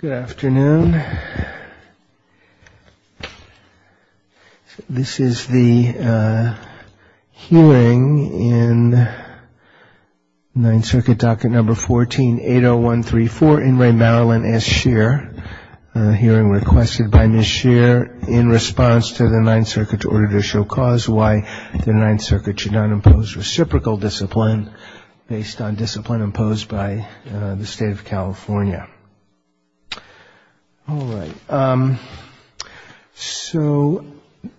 Good afternoon. This is the hearing in Ninth Circuit Docket Number 14-80134, in re. MARILYN S. SCHEER. A hearing requested by Ms. Scheer in response to the Ninth Circuit's order to show cause why the Ninth Circuit should not impose reciprocal discipline based on discipline imposed by the State of California. All right. So,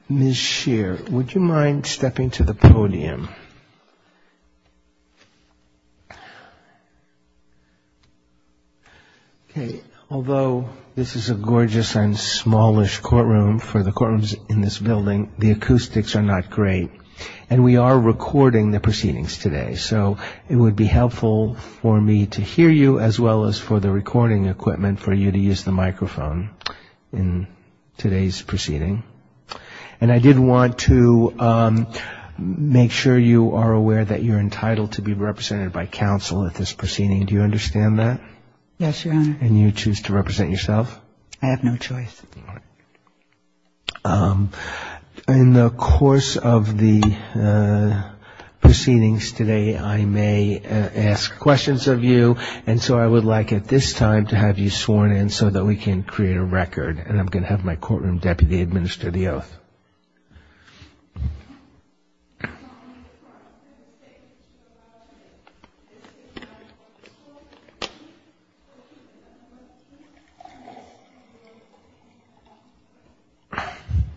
Ms. Scheer, would you mind stepping to the podium? Okay. Although this is a gorgeous and smallish courtroom for the courtrooms in this building, the acoustics are not great. And we are recording the proceedings today. So it would be helpful for me to hear you as well as for the recording equipment for you to use the microphone in today's proceeding. And I did want to make sure you are aware that you're entitled to be represented by counsel at this proceeding. Do you understand that? Yes, Your Honor. And you choose to represent yourself? I have no choice. All right. In the course of the proceedings today, I may ask questions of you. And so I would like at this time to have you sworn in so that we can create a record. And I'm going to have my courtroom deputy administer the oath.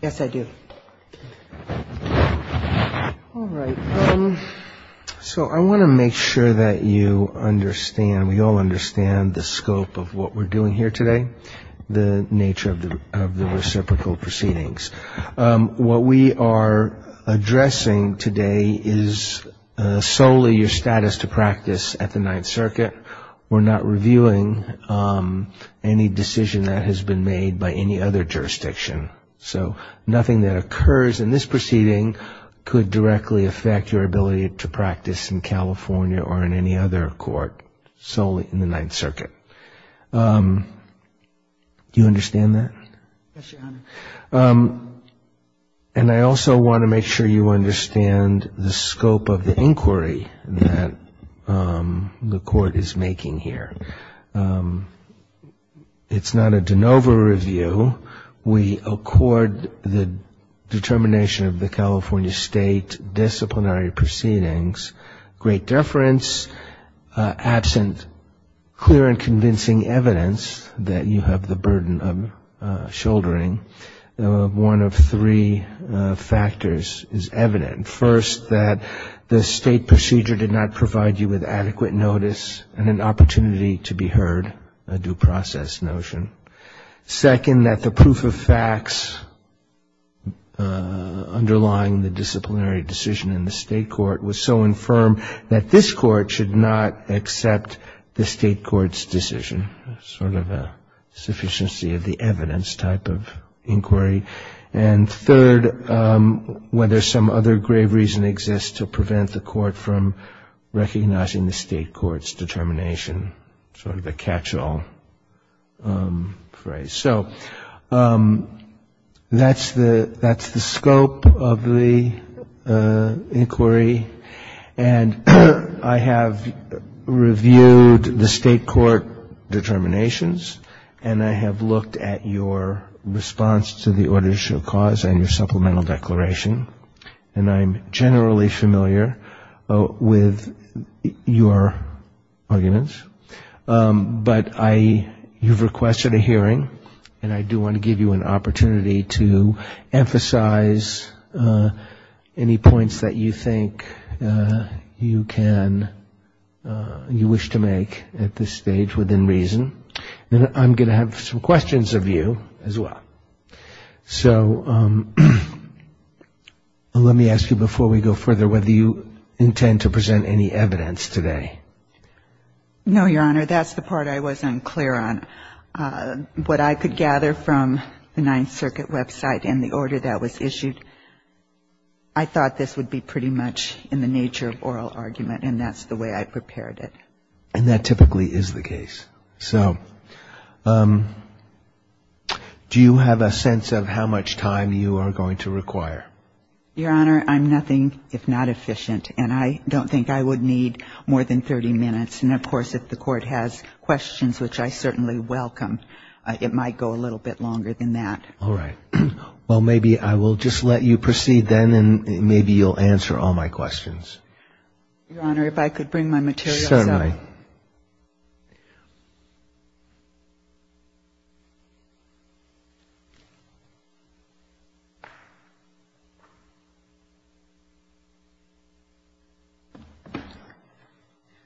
Yes, I do. All right. So I want to make sure that you understand. And we all understand the scope of what we're doing here today, the nature of the reciprocal proceedings. What we are addressing today is solely your status to practice at the Ninth Circuit. We're not reviewing any decision that has been made by any other jurisdiction. So nothing that occurs in this proceeding could directly affect your ability to practice in California or in any other court solely in the Ninth Circuit. Do you understand that? Yes, Your Honor. And I also want to make sure you understand the scope of the inquiry that the court is making here. It's not a de novo review. We accord the determination of the California State disciplinary proceedings great deference, absent clear and convincing evidence that you have the burden of shouldering. One of three factors is evident. First, that the state procedure did not provide you with adequate notice and an opportunity to be heard, a due process notion. Second, that the proof of facts underlying the disciplinary decision in the state court was so infirm that this court should not accept the state court's decision, sort of a sufficiency of the evidence type of inquiry. And third, whether some other grave reason exists to prevent the court from recognizing the state court's determination, sort of the catch-all phrase. So that's the scope of the inquiry. And I have reviewed the state court determinations, and I have looked at your response to the order to issue a cause and your supplemental declaration, and I'm generally familiar with your arguments. But you've requested a hearing, and I do want to give you an opportunity to emphasize any points that you think you can, you wish to make at this stage within reason. And I'm going to have some questions of you as well. So let me ask you before we go further whether you intend to present any evidence today. No, Your Honor, that's the part I wasn't clear on. What I could gather from the Ninth Circuit website and the order that was issued, I thought this would be pretty much in the nature of oral argument, and that's the way I prepared it. And that typically is the case. So do you have a sense of how much time you are going to require? Your Honor, I'm nothing if not efficient, and I don't think I would need more than 30 minutes. And, of course, if the court has questions, which I certainly welcome, it might go a little bit longer than that. All right. Well, maybe I will just let you proceed then, and maybe you'll answer all my questions. Your Honor, if I could bring my material up. Certainly.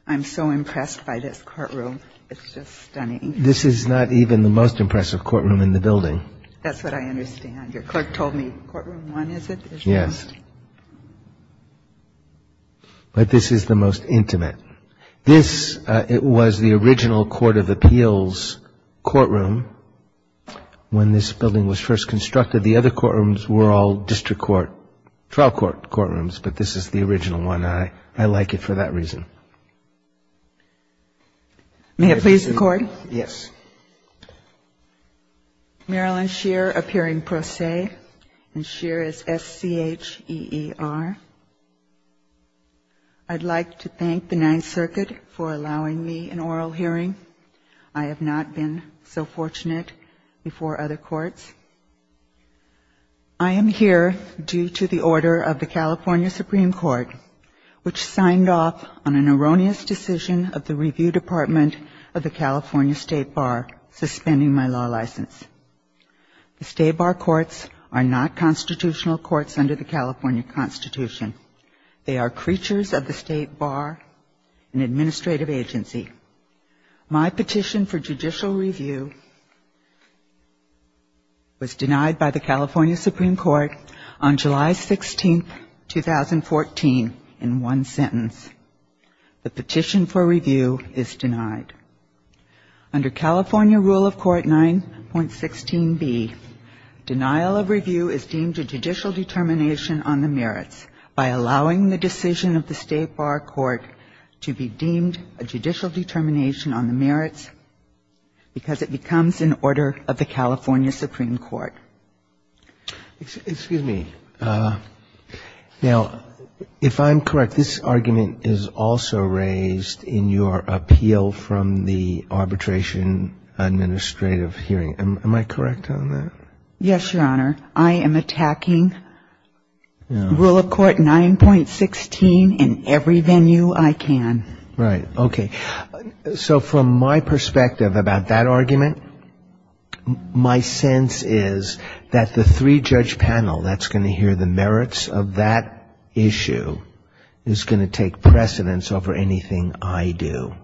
I'm so impressed by this courtroom. It's just stunning. This is not even the most impressive courtroom in the building. That's what I understand. Your clerk told me courtroom one, is it? Yes. But this is the most intimate. This was the original Court of Appeals courtroom when this building was first constructed. The other courtrooms were all district court, trial court courtrooms, but this is the original one, and I like it for that reason. May I please record? Yes. Marilyn Scheer of Hearing Pro Se, and Scheer is S-C-H-E-E-R. I'd like to thank the Ninth Circuit for allowing me an oral hearing. I have not been so fortunate before other courts. I am here due to the order of the California Supreme Court, which signed off on an erroneous decision of the Review Department of the California State Bar, suspending my law license. The State Bar Courts are not constitutional courts under the California Constitution. They are creatures of the State Bar and administrative agency. My petition for judicial review was denied by the California Supreme Court on July 16, 2014, in one sentence. The petition for review is denied. Under California Rule of Court 9.16b, denial of review is deemed a judicial determination on the merits, by allowing the decision of the State Bar Court to be deemed a judicial determination on the merits, because it becomes an order of the California Supreme Court. Excuse me. Now, if I'm correct, this argument is also raised in your appeal from the Arbitration Administrative Hearing. Am I correct on that? Yes, Your Honor. I am attacking Rule of Court 9.16 in every venue I can. Right. Okay. So from my perspective about that argument, my sense is that the three-judge panel that's going to hear the merits of that issue is going to take precedence over anything I do.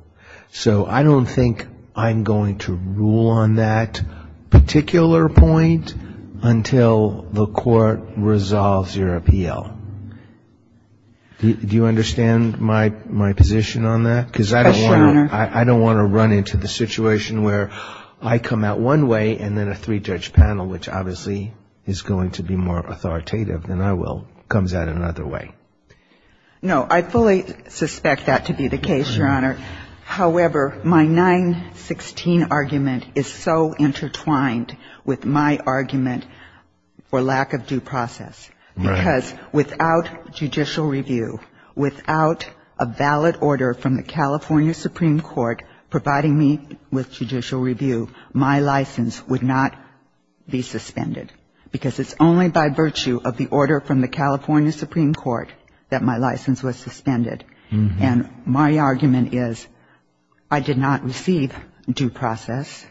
So I don't think I'm going to rule on that particular point until the Court resolves your appeal. Do you understand my position on that? Yes, Your Honor. Because I don't want to run into the situation where I come out one way and then a three-judge panel, which obviously is going to be more authoritative than I will, comes out another way. No, I fully suspect that to be the case, Your Honor. However, my 9.16 argument is so intertwined with my argument for lack of due process. Right. Because without judicial review, without a valid order from the California Supreme Court providing me with judicial review, my license would not be suspended because it's only by virtue of the order from the California Supreme Court that my license was suspended. And my argument is I did not receive due process.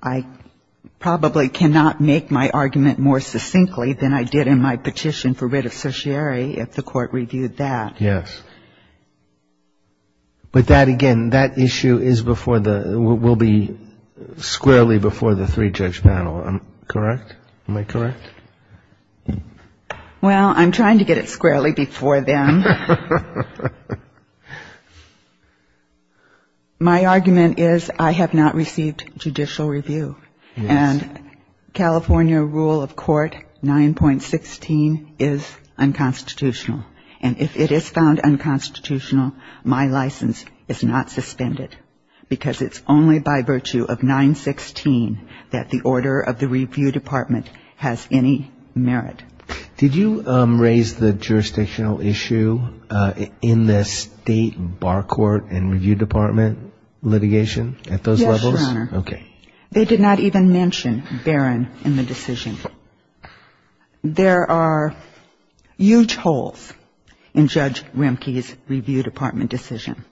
I probably cannot make my argument more succinctly than I did in my petition for writ associary if the Court reviewed that. Yes. But that, again, that issue will be squarely before the three-judge panel, correct? Am I correct? Well, I'm trying to get it squarely before them. My argument is I have not received judicial review. And California rule of court 9.16 is unconstitutional. And if it is found unconstitutional, my license is not suspended because it's only by virtue of 9.16 that the order of the review department has any merit. Did you raise the jurisdictional issue in the state bar court and review department litigation at those levels? Yes, Your Honor. Okay. They did not even mention Barron in the decision. There are huge holes in Judge Remke's review department decision.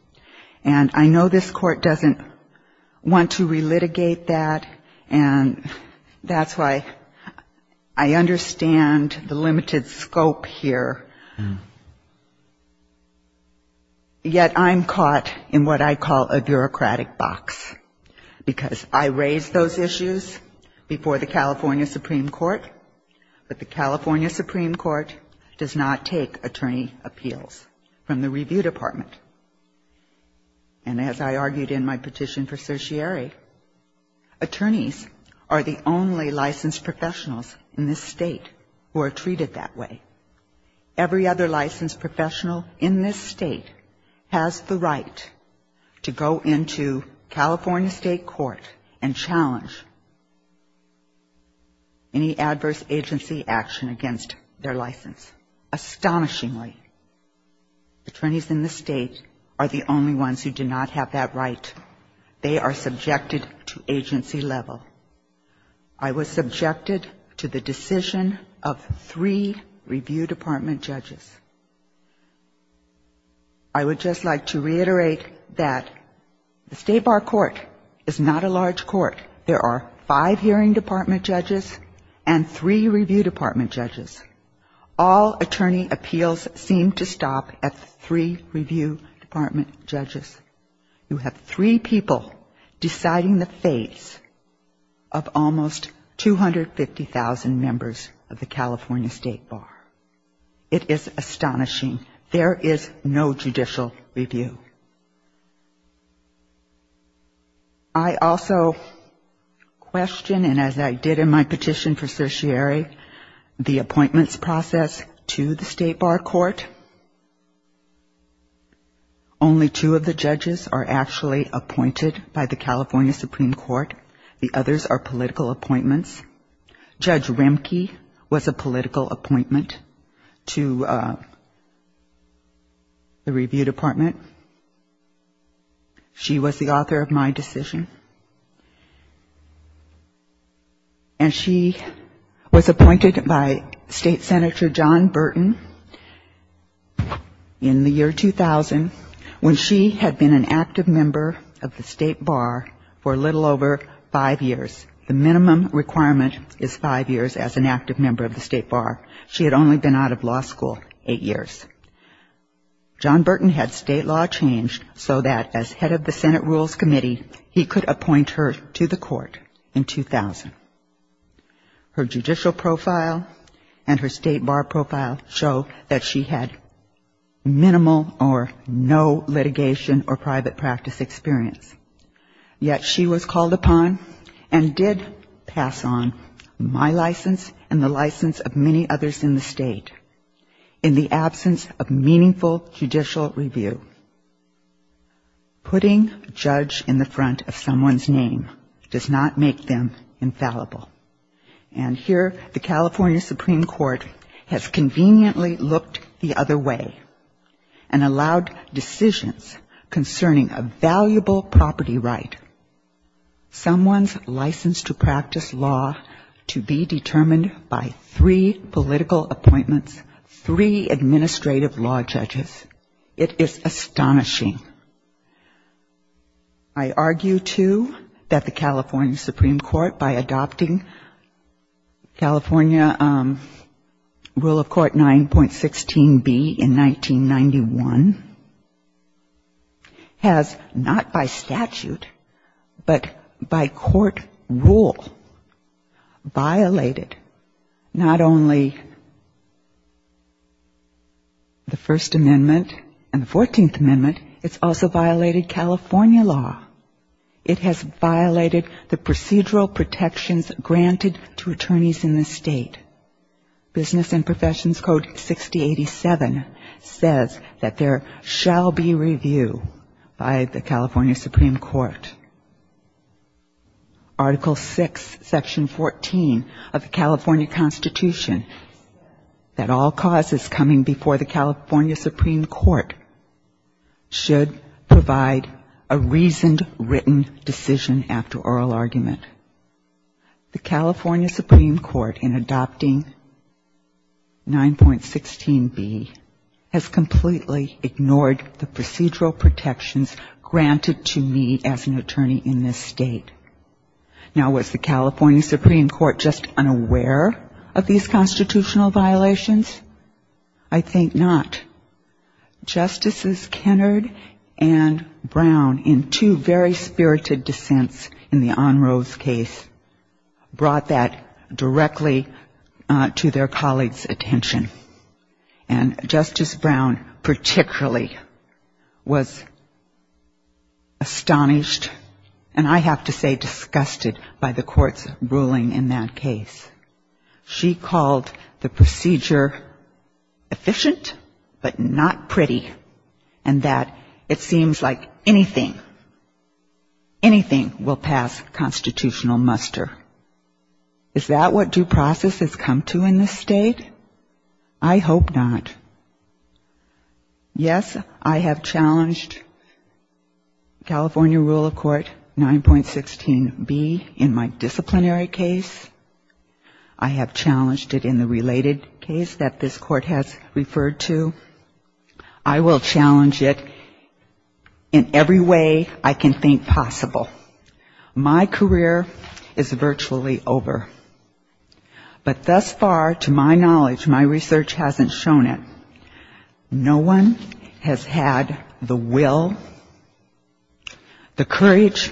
And I know this Court doesn't want to relitigate that. And that's why I understand the limited scope here. Yet I'm caught in what I call a bureaucratic box. Because I raised those issues before the California Supreme Court. But the California Supreme Court does not take attorney appeals from the review department. And as I argued in my petition for certiorari, attorneys are the only licensed professionals in this state who are treated that way. Every other licensed professional in this state has the right to go into California State Court and challenge any adverse agency action against their license. Astonishingly, attorneys in this state are the only ones who do not have that right. They are subjected to agency level. I was subjected to the decision of three review department judges. I would just like to reiterate that the state bar court is not a large court. There are five hearing department judges and three review department judges. All attorney appeals seem to stop at three review department judges. You have three judges. You have three people deciding the fate of almost 250,000 members of the California State Bar. It is astonishing. There is no judicial review. I also question, and as I did in my petition for certiorari, the appointments process to the state bar court. Only two of the judges are actually appointed by the California Supreme Court. The others are political appointments. Judge Rimke was a political appointment to the review department. She was the author of my decision. And she was appointed by State Senator John Burton in the year 2000 when she had been an active member of the state bar for a little over five years. The minimum requirement is five years as an active member of the state bar. She had only been out of law school eight years. John Burton had state law changed so that as head of the Senate Rules Committee, he could appoint her to the court in 2000. Her judicial profile and her state bar profile show that she had minimal or no litigation or private practice experience. Yet she was called upon and did pass on my license and the license of many others in the state in the absence of meaningful judicial review. Putting a judge in the front of someone's name does not make them infallible. And here the California Supreme Court has conveniently looked the other way and allowed decisions concerning a valuable property right, someone's license to practice law to be determined by three political appointments, three administrative law judges. It is astonishing. I argue, too, that the California Supreme Court, by adopting California Rule of Court 9.16B in 1991, has not by statute, but by court rule, violated not only the First Amendment and the 14th Amendment, it's also violated California law. It has violated the procedural protections granted to attorneys in the state. Business and Professions Code 6087 says that there shall be review by the California Supreme Court. Article 6, Section 14 of the California Constitution, that all causes coming before the California Supreme Court should provide a reasoned, written decision after oral argument. The California Supreme Court, in adopting 9.16B, has completely ignored the procedural protections granted to me as an attorney in this state. Now, was the California Supreme Court just unaware of these constitutional violations? I think not. Justices Kennard and Brown, in two very spirited dissents in the Onrose case, brought that directly to their colleagues' attention. And Justice Brown, particularly, was astonished, and I have to say disgusted, by the court's ruling in that case. She called the procedure efficient, but not pretty, and that it seems like anything, anything will pass constitutional muster. Is that what due process has come to in this state? I hope not. Yes, I have challenged California Rule of Court 9.16B in my disciplinary case. I have challenged it in the related case that this court has referred to. I will challenge it in every way I can think possible. My career is virtually over. But thus far, to my knowledge, my research hasn't shown it. No one has had the will, the courage,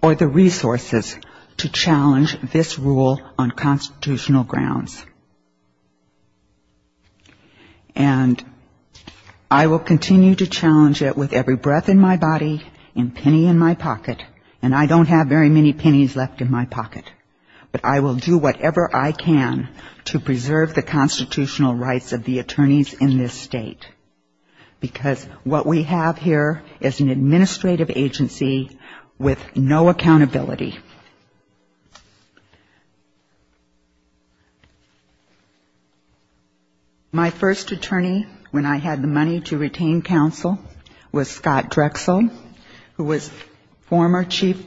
or the resources to challenge this rule on constitutional grounds. And I will continue to challenge it with every breath in my body, and penny in my pocket, and I don't have very many pennies left in my pocket. But I will do whatever I can to preserve the constitutional rights of the attorneys in this state. Because what we have here is an administrative agency with no accountability. My first attorney, when I had the money to retain counsel, was Scott Drexel, who was former chief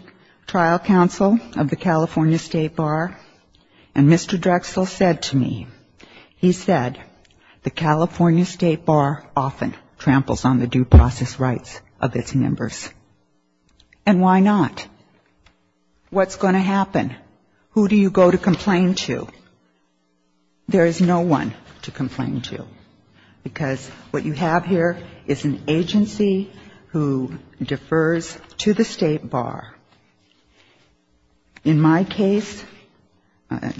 trial counsel of the California State Bar. And Mr. Drexel said to me, he said, the California State Bar often tramples on the due process rights of its members. And why not? And I said, well, what's going to happen? Who do you go to complain to? There is no one to complain to. Because what you have here is an agency who defers to the State Bar. In my case,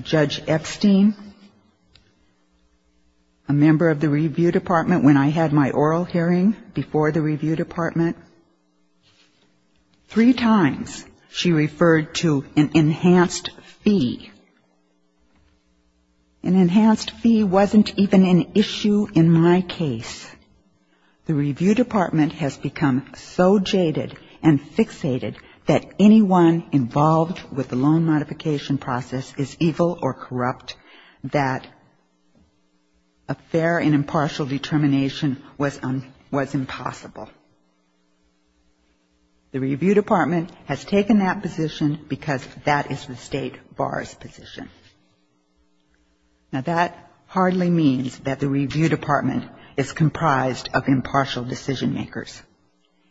Judge Epstein, a member of the review department when I had my oral hearing before the review department, three times she referred to an enhanced fee. An enhanced fee wasn't even an issue in my case. The review department has become so jaded and fixated that anyone involved with the loan modification process is evil or corrupt that a fair and impartial determination was impossible. The review department has taken that position because that is the State Bar's position. Now, that hardly means that the review department is comprised of impartial decision makers.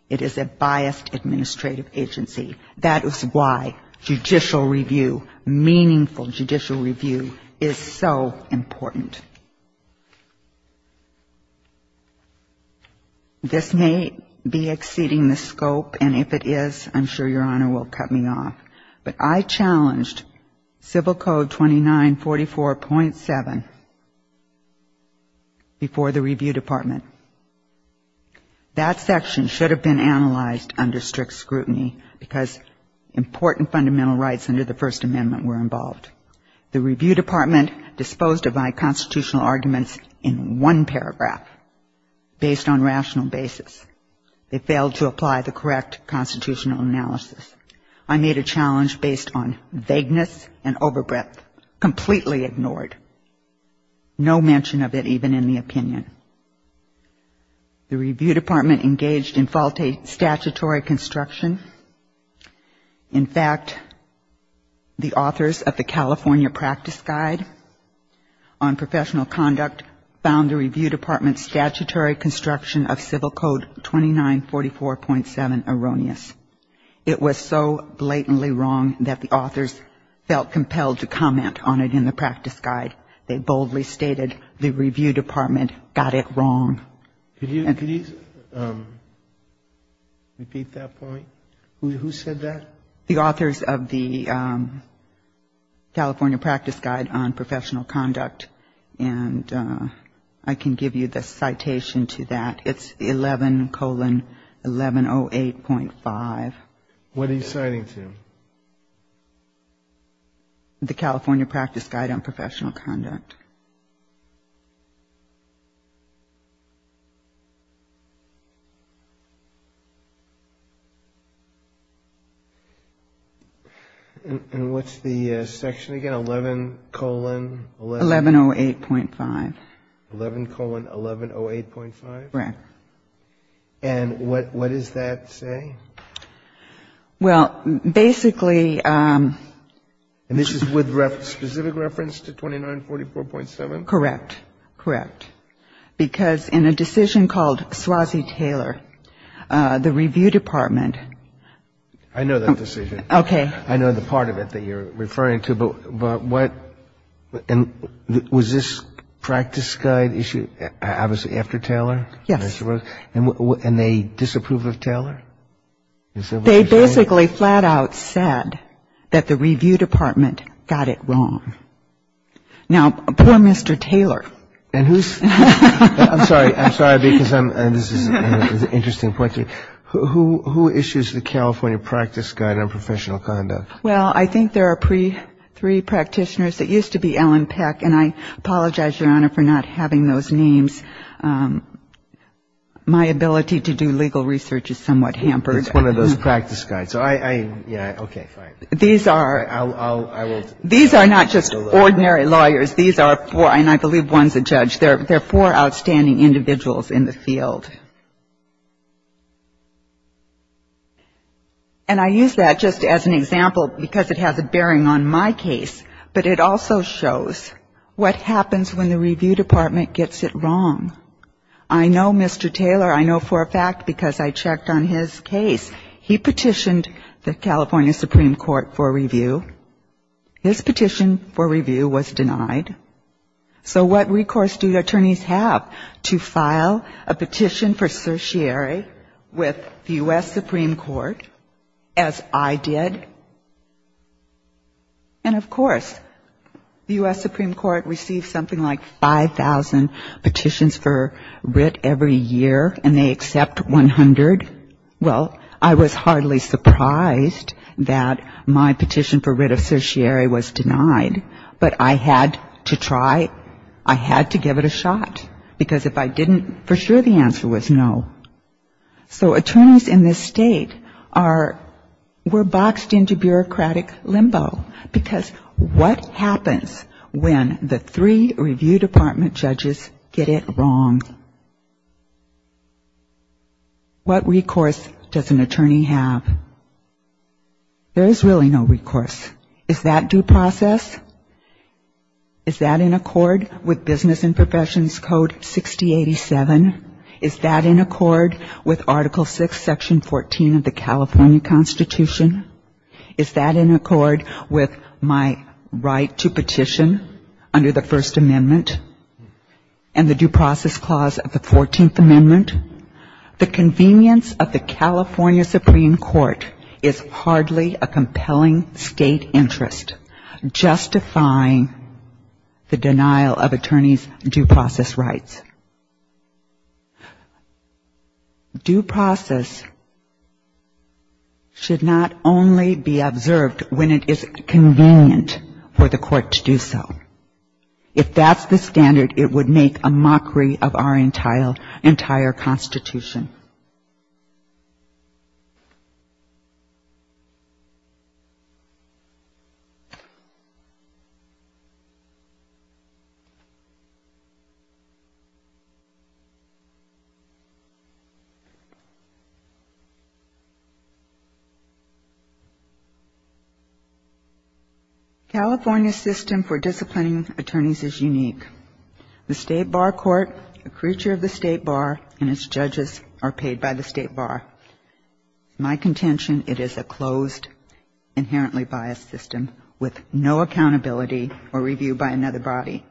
It is a biased administrative agency. That is why judicial review, meaningful judicial review, is so important. This may be exceeding the scope, and if it is, I'm sure Your Honor will cut me off. But I challenged Civil Code 2944.7 before the review department. That section should have been analyzed under strict scrutiny because important fundamental rights under the First Amendment were involved. The review department disposed of my constitutional arguments in one paragraph based on rational basis. They failed to apply the correct constitutional analysis. I made a challenge based on vagueness and over breadth, completely ignored. No mention of it even in the opinion. The review department engaged in faulty statutory construction. In fact, the authors of the California Practice Guide on Professional Conduct found the review department's statutory construction of Civil Code 2944.7 erroneous. It was so blatantly wrong that the authors felt compelled to comment on it in the practice guide. They boldly stated the review department got it wrong. Could you repeat that point? Who said that? The authors of the California Practice Guide on Professional Conduct, and I can give you the citation to that. It's 11 colon 1108.5. What are you citing to? The California Practice Guide on Professional Conduct. And what's the section again, 11 colon? 1108.5. 11 colon 1108.5? 1108.5. And what does that say? Well, basically... And this is with specific reference to 2944.7? Correct. Correct. Because in a decision called Slazi-Taylor, the review department... I know that decision. Okay. I know the part of it that you're referring to, but what... Was this practice guide issue obviously after Taylor? Yes. And they disapproved of Taylor? They basically flat out said that the review department got it wrong. Now, poor Mr. Taylor. I'm sorry. I'm sorry. This is an interesting question. Who issues the California Practice Guide on Professional Conduct? Well, I think there are three practitioners. It used to be Alan Peck, and I apologize, Your Honor, for not having those names. My ability to do legal research is somewhat hampered. It's one of those practice guides. So I... Yeah. Okay. Fine. These are... These are not just ordinary lawyers. These are four, and I believe one's a judge. They're four outstanding individuals in the field. Okay. And I use that just as an example because it has a bearing on my case, but it also shows what happens when the review department gets it wrong. I know Mr. Taylor. I know for a fact because I checked on his case. He petitioned the California Supreme Court for review. His petition for review was denied. So what recourse do the attorneys have? To file a petition for certiorari with the U.S. Supreme Court, as I did? And, of course, the U.S. Supreme Court receives something like 5,000 petitions for writ every year, and they accept 100. Well, I was hardly surprised that my petition for writ of certiorari was denied, but I had to try. I had to give it a shot because if I didn't, for sure the answer was no. So attorneys in this state are... were boxed into bureaucratic limbo because what happens when the three review department judges get it wrong? What recourse does an attorney have? There is really no recourse. Is that due process? Is that in accord with Business and Professions Code 6087? Is that in accord with Article VI, Section 14 of the California Constitution? Is that in accord with my right to petition under the First Amendment and the Due Process Clause of the Fourteenth Amendment? The convenience of the California Supreme Court is hardly a compelling state interest justifying the denial of attorneys' due process rights. Due process should not only be observed when it is convenient for the court to do so. If that's the standard, it would make a mockery of our entire Constitution. California's system for disciplining attorneys is unique. The State Bar Court, the creature of the State Bar, and its judges are all unique. My contention, it is a closed, inherently biased system with no accountability or review by another body.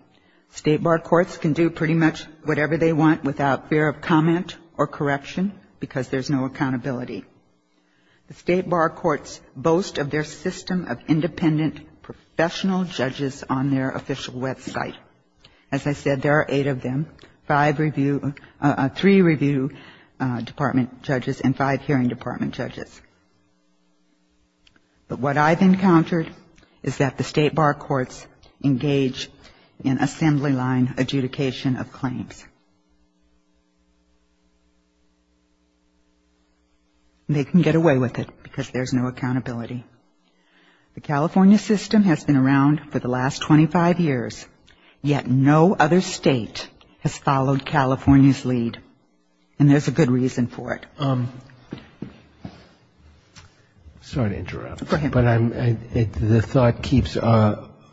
State Bar Courts can do pretty much whatever they want without fear of comment or correction because there's no accountability. The State Bar Courts boast of their system of independent professional judges on their official website. As I said, there are eight of them. Five review, three review department judges and five hearing department judges. But what I've encountered is that the State Bar Courts engage in assembly line adjudication of claims. They can get away with it because there's no accountability. The California system has been around for the last 25 years yet no other state has followed California's lead. And there's a good reason for it. Sorry to interrupt. Go ahead. The thought keeps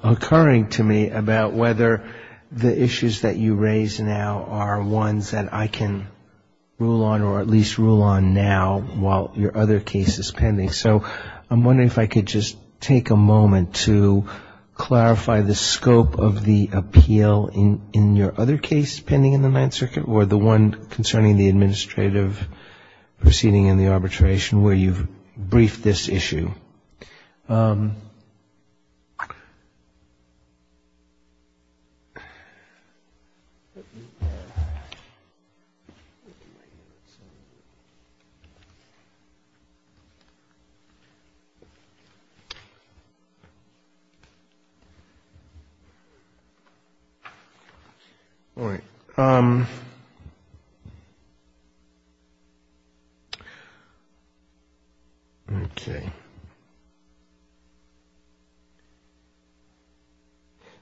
occurring to me about whether the issues that you raise now are ones that I can rule on or at least rule on now while your other case is pending. So I'm wondering if I could just take a moment to clarify the scope of the appeal in your other case pending in the Mad Circuit or the one concerning the administrative proceeding in the arbitration where you've briefed this issue. Thank you.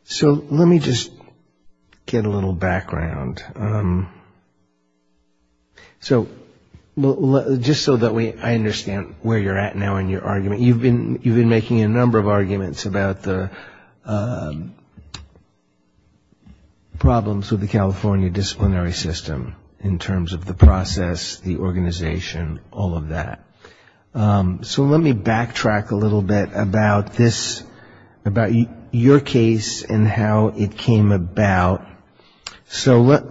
So let me just get a little background. So just so that I understand where you're at now in your argument, you've been making a number of arguments about the problems with the California disciplinary system in terms of the process, the organization, all of that. So let me backtrack a little bit about this, about your case and how it came about. So let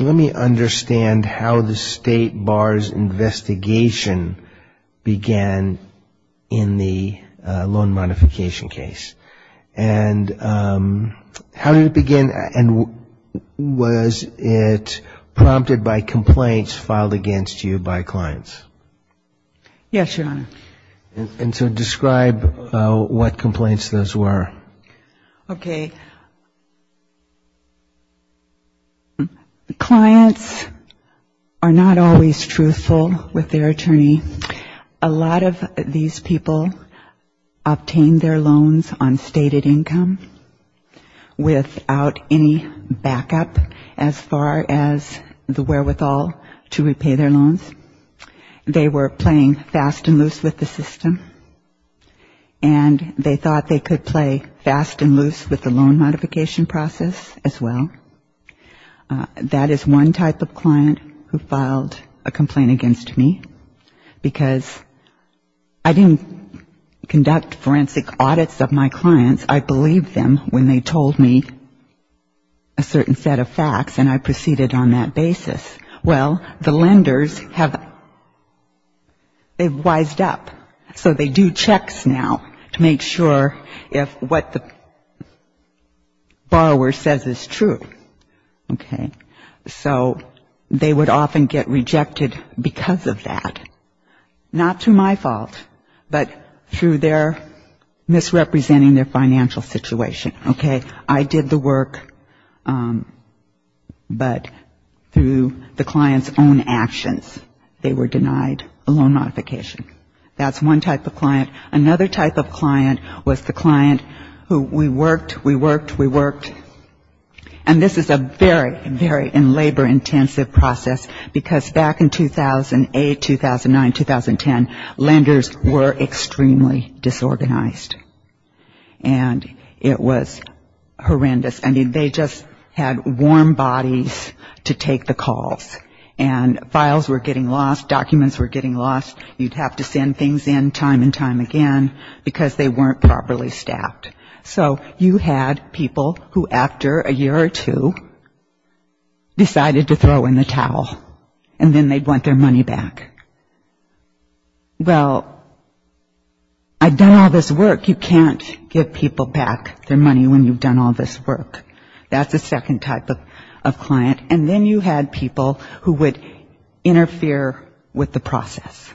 me understand how the state bar's investigation began in the loan modification case. And how did it begin and was it prompted by complaints filed against you by clients? Yes, Your Honor. And so describe what complaints those were. Okay. Clients are not always truthful with their attorney. A lot of these people obtained their loans on stated income without any backup as far as the wherewithal to repay their loans. They were playing fast and loose with the system. And they thought they could play fast and loose with the loan modification process as well. That is one type of client who filed a complaint against me because I didn't conduct forensic audits of my clients. I believed them when they told me a certain set of facts and I proceeded on that basis. Well, the lenders have, they've wised up. So they do checks now to make sure if what the borrower says is true. Okay. So they would often get rejected because of that. Not to my fault, but through their misrepresenting their financial situation. Okay. I did the work, but through the client's own actions, they were denied a loan modification. That's one type of client. Another type of client was the client who we worked, we worked, we worked. And this is a very, very labor-intensive process because back in 2008, 2009, 2010, lenders were extremely disorganized. And it was horrendous. I mean, they just had warm bodies to take the calls. And files were getting lost, documents were getting lost. You'd have to send things in time and time again because they weren't properly staffed. So you had people who after a year or two decided to throw in the towel and then they'd want their money back. Well, I've done all this work. You can't give people back their money when you've done all this work. That's the second type of client. And then you had people who would interfere with the process.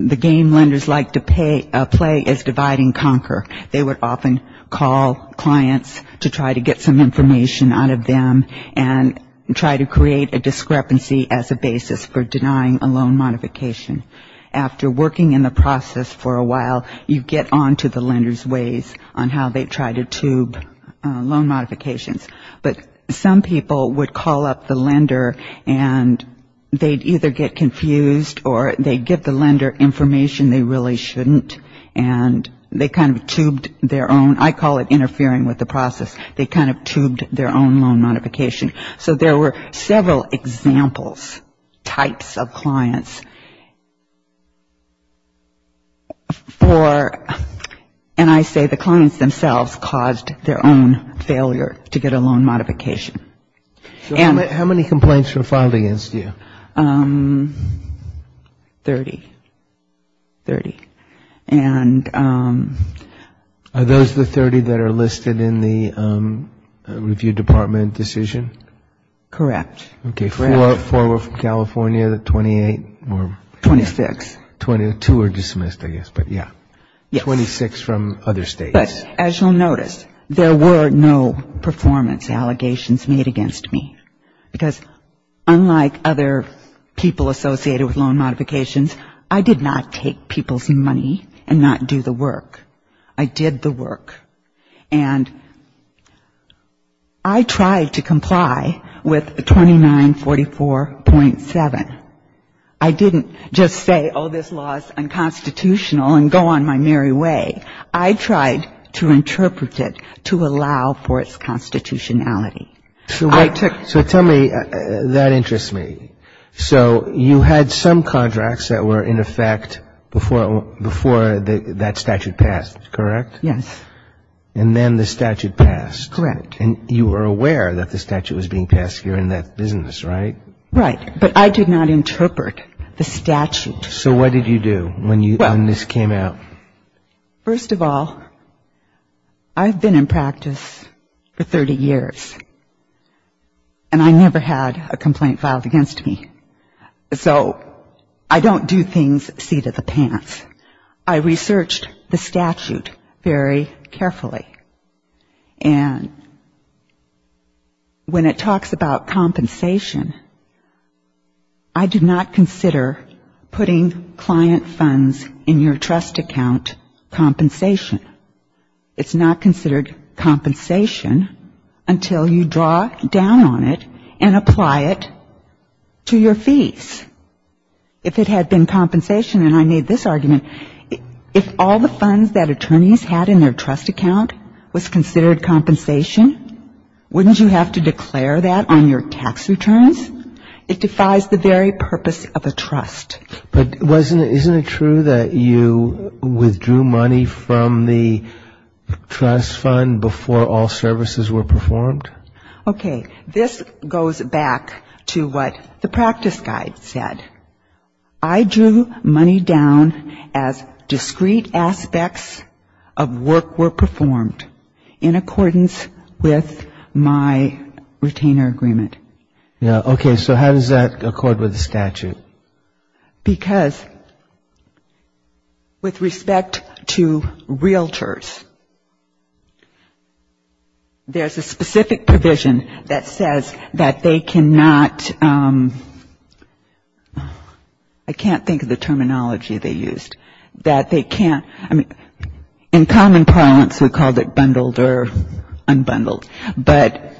The game lenders like to play as divide and conquer. They would often call clients to try to get some information out of them and try to create a discrepancy as a basis for denying a loan modification. After working in the process for a while, you get on to the lender's ways on how they try to tube loan modifications. But some people would call up the lender and they'd either get confused or they'd give the lender information they really shouldn't and they kind of tubed their own. I call it interfering with the process. They kind of tubed their own loan modification. So there were several examples, types of clients. And I say the clients themselves caused their own failure to get a loan modification. How many complaints were filed against you? Thirty. Thirty. Are those the 30 that are listed in the review department decision? Correct. Okay, four were from California, 28 or? 26. Two were dismissed, I guess. But yeah, 26 from other states. But as you'll notice, there were no performance allegations made against me because unlike other people associated with loan modifications, I did not take people's money and not do the work. I did the work. And I tried to comply with 2944.7. I didn't just say, oh, this law is unconstitutional and go on my merry way. I tried to interpret it to allow for its constitutionality. So tell me, that interests me. So you had some contracts that were in effect before that statute passed, correct? Yes. And then the statute passed. Correct. And you were aware that the statute was being passed during that business, right? Right. But I did not interpret the statute. So what did you do when this came out? First of all, I've been in practice for 30 years. And I never had a complaint filed against me. So I don't do things seat of the pants. I researched the statute very carefully. And when it talks about compensation, I did not consider putting client funds in your trust account compensation. It's not considered compensation until you draw down on it and apply it to your fees. If it had been compensation, and I made this argument, if all the funds that attorneys had in their trust account was considered compensation, wouldn't you have to declare that on your tax returns? It defies the very purpose of a trust. But isn't it true that you withdrew money from the trust fund before all services were performed? Okay. This goes back to what the practice guide said. I drew money down as discrete aspects of work were performed in accordance with my retainer agreement. Okay. So how does that accord with the statute? Because with respect to realtors, there's a specific provision that says that they cannot, I can't think of the terminology they used, that they can't, in common parlance, we called it bundled or unbundled. But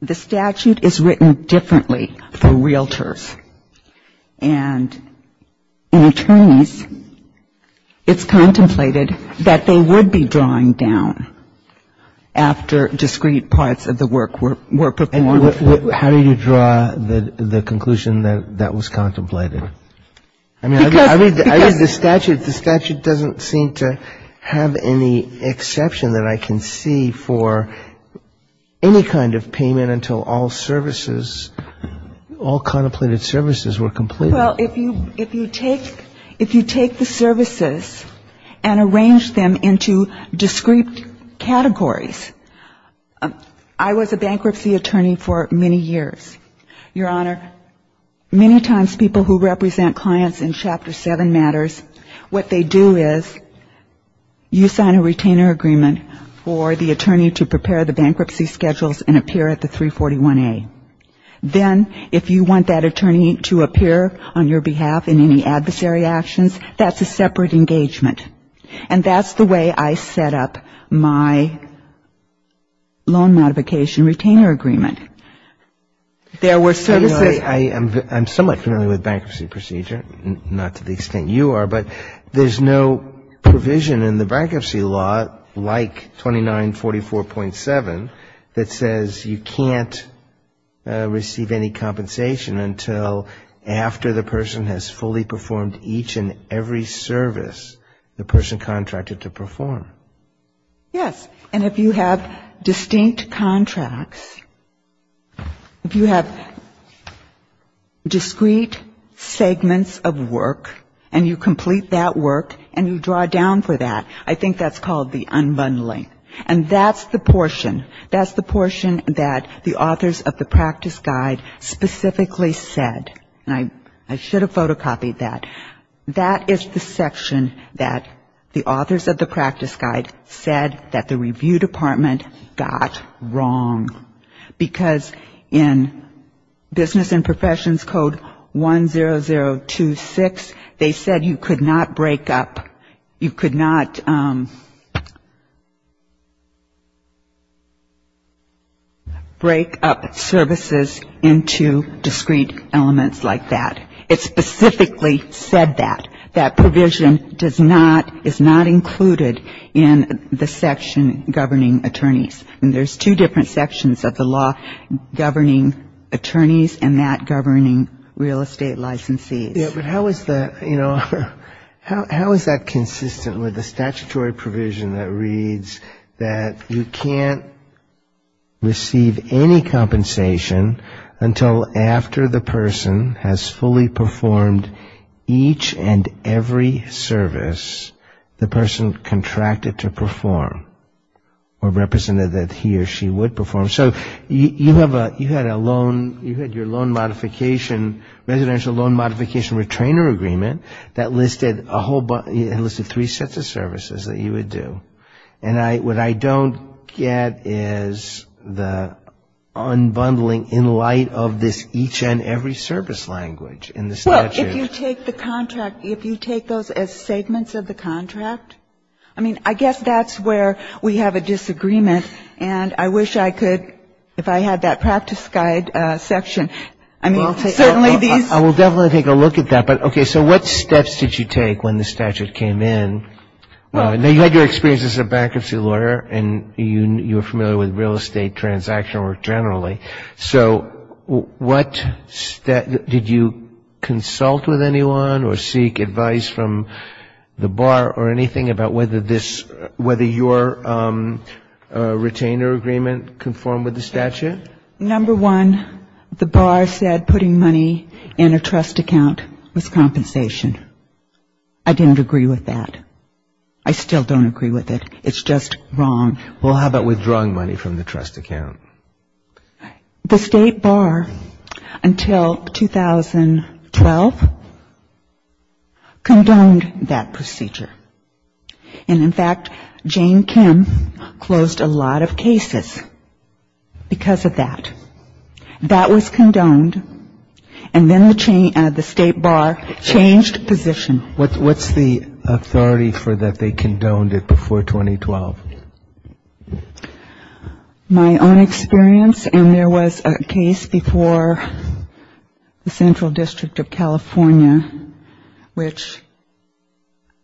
the statute is written differently for realtors. And in attorneys, it's contemplated that they would be drawing down after discrete parts of the work were performed. How do you draw the conclusion that that was contemplated? I mean, I think the statute doesn't seem to have any exception that I can see for any kind of payment until all services, all contemplated services were completed. Well, if you take the services and arrange them into discrete categories, I was a bankruptcy attorney for many years. Your Honor, many times people who represent clients in Chapter 7 matters, what they do is you sign a retainer agreement for the attorney to prepare the bankruptcy schedules and appear at the 341A. Then, if you want that attorney to appear on your behalf in any adversary actions, that's a separate engagement. And that's the way I set up my loan modification retainer agreement. I'm somewhat familiar with bankruptcy procedure, not to the extent you are, but there's no provision in the bankruptcy law like 2944.7 that says you can't receive any compensation until after the person has fully performed each and every service the person contracted to perform. Yes, and if you have distinct contracts, if you have discrete segments of work, and you complete that work and you draw down for that, I think that's called the unbundling. And that's the portion, that's the portion that the authors of the practice guide specifically said. And I should have photocopied that. That is the section that the authors of the practice guide said that the review department got wrong. Because in business and professions code 10026, they said you could not break up, you could not break up services into discrete elements like that. It specifically said that. That provision does not, is not included in the section governing attorneys. And there's two different sections of the law governing attorneys and that governing real estate licensees. How is that, you know, how is that consistent with the statutory provision that reads that you can't receive any compensation until after the person has fully performed each and every service the person contracted to perform or represented that he or she would perform. So you have a, you had a loan, you had your loan modification, residential loan modification retrainer agreement that listed a whole bunch, it listed three sets of services that you would do. And what I don't get is the unbundling in light of this each and every service language in the statute. Well, if you take the contract, if you take those as segments of the contract, I mean, I guess that's where we have a disagreement and I wish I could, if I had that practice guide section. I mean, certainly these. I will definitely take a look at that. But okay, so what steps did you take when the statute came in? I know you had your experience as a bankruptcy lawyer and you're familiar with real estate transaction work generally. Okay. So what, did you consult with anyone or seek advice from the bar or anything about whether this, whether your retainer agreement conformed with the statute? Number one, the bar said putting money in a trust account with compensation. I didn't agree with that. I still don't agree with it. It's just wrong. Well, how about withdrawing money from the trust account? The state bar, until 2012, condoned that procedure. And in fact, Jane Kim closed a lot of cases because of that. That was condoned and then the state bar changed positions. What's the authority for that they condoned it before 2012? My own experience, and there was a case before the Central District of California, which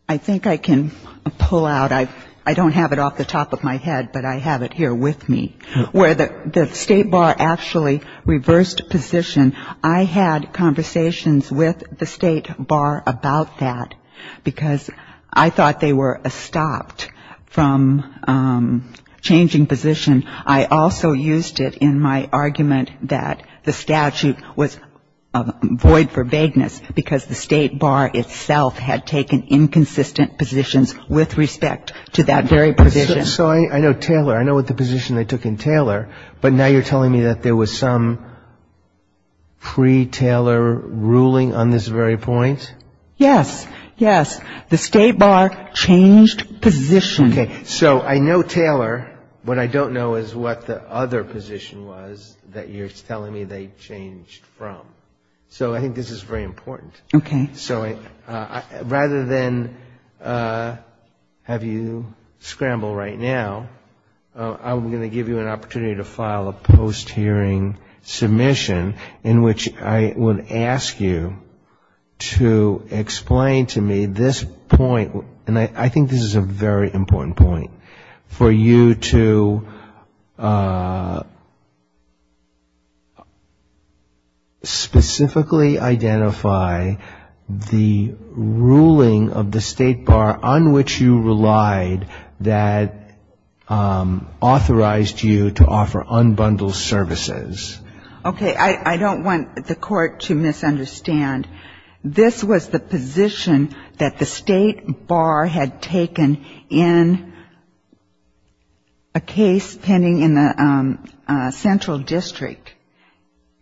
I think I can pull out. I don't have it off the top of my head, but I have it here with me, where the state bar actually reversed positions. I had conversations with the state bar about that because I thought they were stopped from changing positions. I also used it in my argument that the statute was void for vagueness because the state bar itself had taken inconsistent positions with respect to that very position. So I know Taylor. I know what the position they took in Taylor, but now you're telling me that there was some pre-Taylor ruling on this very point? Yes, yes. The state bar changed positions. So I know Taylor. What I don't know is what the other position was that you're telling me they changed from. So I think this is very important. Okay. So rather than have you scramble right now, I'm going to give you an opportunity to file a post-hearing submission in which I would ask you to explain to me this point, and I think this is a very important point, for you to specifically identify the ruling of the state bar on which you relied that authorized you to offer unbundled services. Okay. I don't want the court to misunderstand. This was the position that the state bar had taken in a case pending in the central district.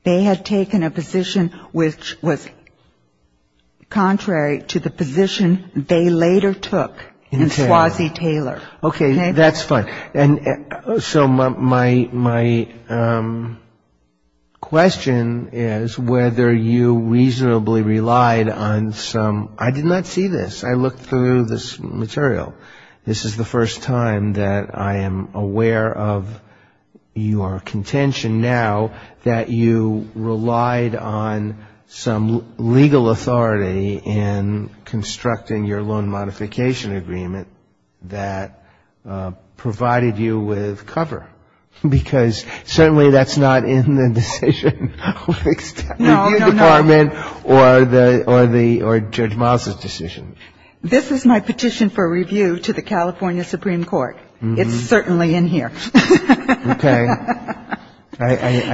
They had taken a position which was contrary to the position they later took in Squazzie-Taylor. Okay. That's fine. So my question is whether you reasonably relied on some – I did not see this. I looked through this material. This is the first time that I am aware of your contention now that you relied on some legal authority in constructing your loan modification agreement that provided you with cover, because certainly that's not in the decision of the executive department or Judge Mazda's decision. This is my petition for review to the California Supreme Court. It's certainly in here. Okay. I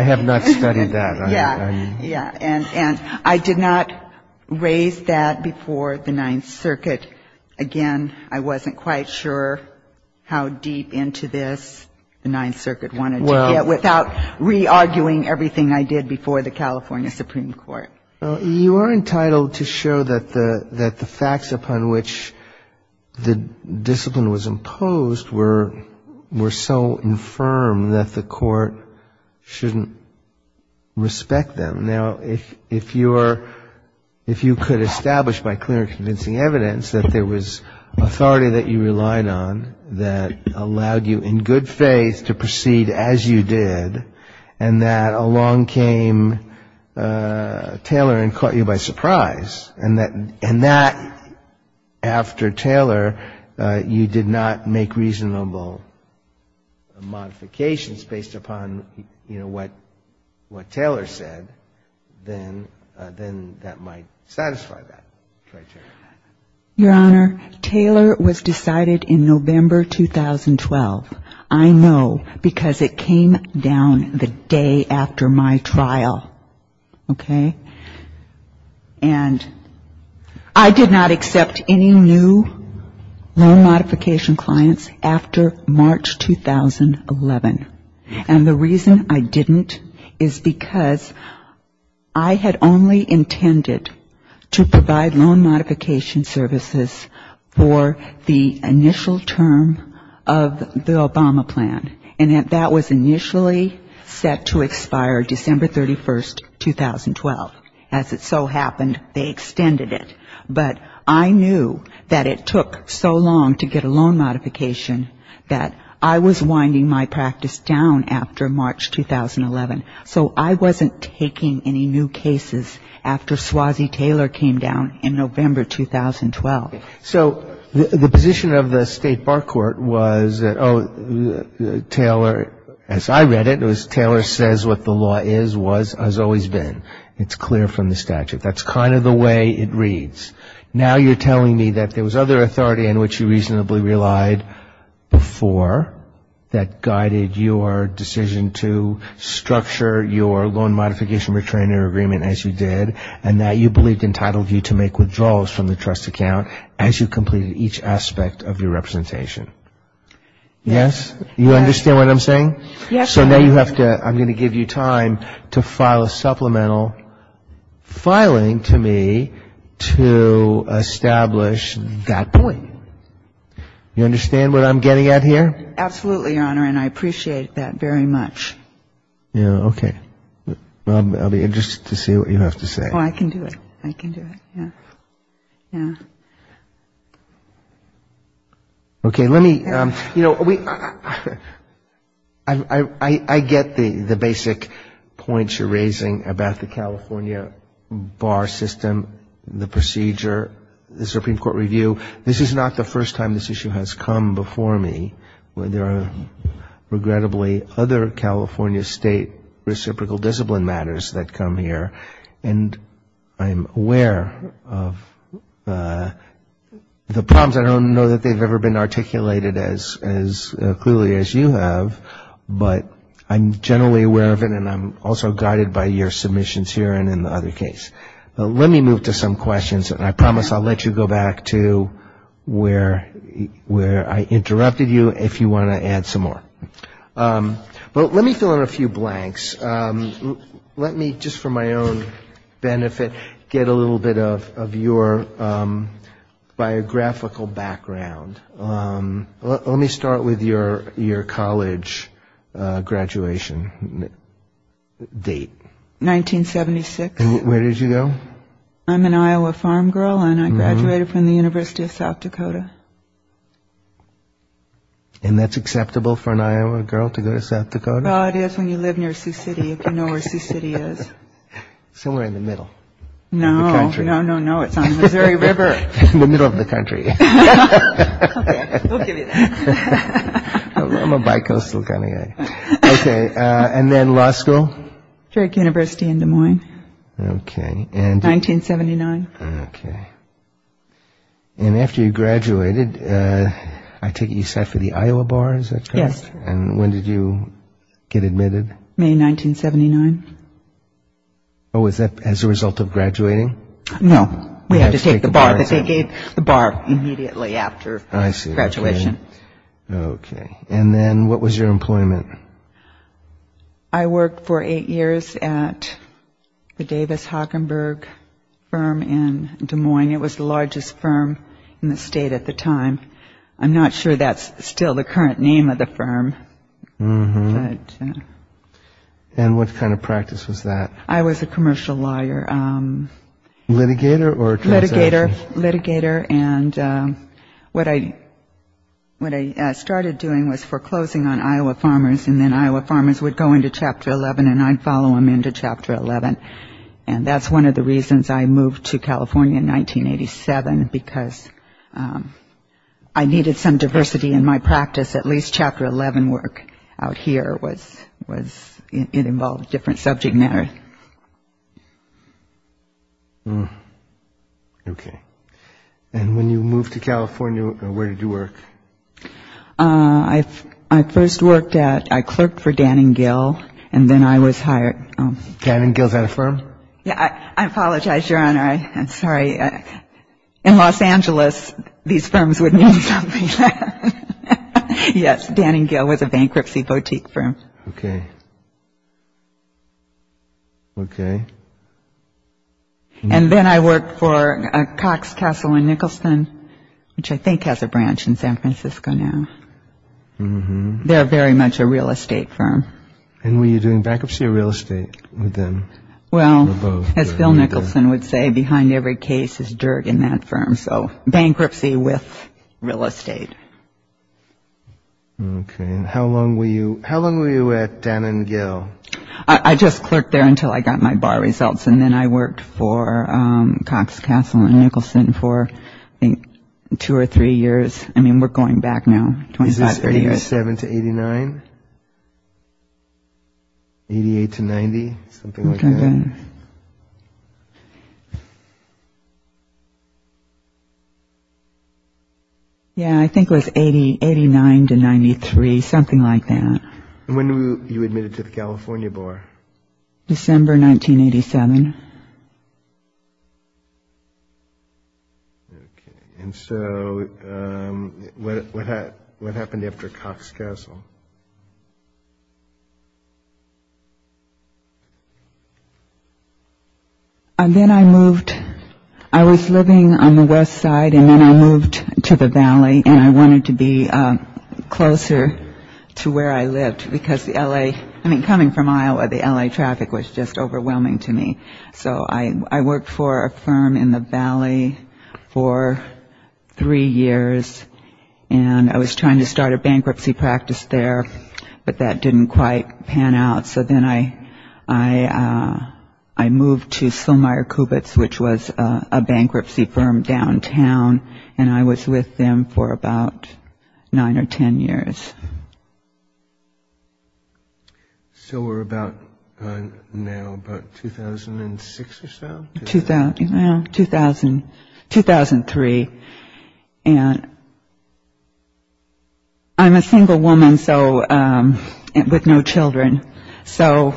have not studied that. Yeah. Yeah. And I did not raise that before the Ninth Circuit. Again, I wasn't quite sure how deep into this the Ninth Circuit wanted to get without re-arguing everything I did before the California Supreme Court. You are entitled to show that the facts upon which the discipline was imposed were so infirm that the court shouldn't respect them. Now, if you could establish by clear and convincing evidence that there was authority that you relied on that allowed you in good faith to proceed as you did and that along came Taylor and caught you by surprise and that after Taylor you did not make reasonable modifications based upon what Taylor said, then that might satisfy that criteria. Your Honor, Taylor was decided in November 2012. I know because it came down the day after my trial. Okay. And I did not accept any new loan modification clients after March 2011. And the reason I didn't is because I had only intended to provide loan modification services for the initial term of the Obama plan. And that was initially set to expire December 31, 2012. As it so happened, they extended it. But I knew that it took so long to get a loan modification that I was winding my practice down after March 2011. So I wasn't taking any new cases after Swazi Taylor came down in November 2012. So the position of the State Bar Court was that, oh, Taylor, as I read it, Taylor says what the law is, was, has always been. It's clear from the statute. That's kind of the way it reads. Now you're telling me that there was other authority in which you reasonably relied before that guided your decision to structure your loan modification return agreement as you did and that you believed entitled you to make withdrawals from the trust account as you completed each aspect of your representation. Yes? You understand what I'm saying? Yes. So now you have to, I'm going to give you time to file a supplemental filing to me to establish that point. You understand what I'm getting at here? Absolutely, Your Honor, and I appreciate that very much. Yeah, okay. I'll be interested to see what you have to say. I can do it. I can do it. Yeah. Okay, let me, you know, I get the basic points you're raising about the California Bar System, the procedure, the Supreme Court review. This is not the first time this issue has come before me. There are regrettably other California state reciprocal discipline matters that come here, and I'm aware of the problems. I don't know that they've ever been articulated as clearly as you have, but I'm generally aware of it, and I'm also guided by your submissions here and in the other case. Okay. Let me move to some questions, and I promise I'll let you go back to where I interrupted you if you want to add some more. But let me throw in a few blanks. Let me, just for my own benefit, get a little bit of your biographical background. Let me start with your college graduation date. 1976. And where did you go? I'm an Iowa farm girl, and I graduated from the University of South Dakota. And that's acceptable for an Iowa girl to go to South Dakota? Well, it is when you live near Sioux City. You know where Sioux City is. Somewhere in the middle. No, no, no, no, it's on the very river. In the middle of the country. I'm a bi-coastal kind of guy. Okay. And then law school? Dirk University in Des Moines. Okay. 1979. Okay. And after you graduated, I take it you sat for the Iowa Bar, is that correct? Yes. And when did you get admitted? May 1979. Oh, was that as a result of graduating? No. We had to take the bar immediately after graduation. Okay. And then what was your employment? I worked for eight years at the Davis Hockenberg firm in Des Moines. It was the largest firm in the state at the time. I'm not sure that's still the current name of the firm. And what kind of practice was that? I was a commercial lawyer. Litigator? Litigator. Litigator. And what I started doing was foreclosing on Iowa farmers, and then Iowa farmers would go into Chapter 11 and I'd follow them into Chapter 11. And that's one of the reasons I moved to California in 1987, because I needed some diversity in my practice. At least Chapter 11 work out here involved different subject matters. Okay. And when you moved to California, where did you work? I first worked at a clerk for Dan and Gil, and then I was hired. Dan and Gil is that a firm? I apologize, Your Honor. I'm sorry. In Los Angeles, these firms would mean something like that. Yes, Dan and Gil was a bankruptcy boutique firm. Okay. Okay. And then I worked for Cox, Castle, and Nicholson, which I think has a branch in San Francisco now. They're very much a real estate firm. And were you doing bankruptcy or real estate then? Well, as Bill Nicholson would say, behind every case is dirt in that firm. So bankruptcy with real estate. Okay. And how long were you at Dan and Gil? I just clerked there until I got my bar results, and then I worked for Cox, Castle, and Nicholson for two or three years. I mean, we're going back now 25, 30 years. 1987 to 89? 88 to 90? Something like that. Okay. Yeah, I think it was 89 to 93, something like that. And when were you admitted to the California Bar? December 1987. Okay. And so what happened after Cox, Castle? Then I moved. I was living on the west side, and then I moved to the valley, and I wanted to be closer to where I lived because the L.A. I mean, coming from Iowa, the L.A. traffic was just overwhelming to me. So I worked for a firm in the valley for three years, and I was trying to start a bankruptcy practice there, but that didn't quite pan out. So then I moved to Silmire Kubits, which was a bankruptcy firm downtown, and I was with them for about nine or ten years. So we're about now, about 2006 or so? 2003, and I'm a single woman with no children, so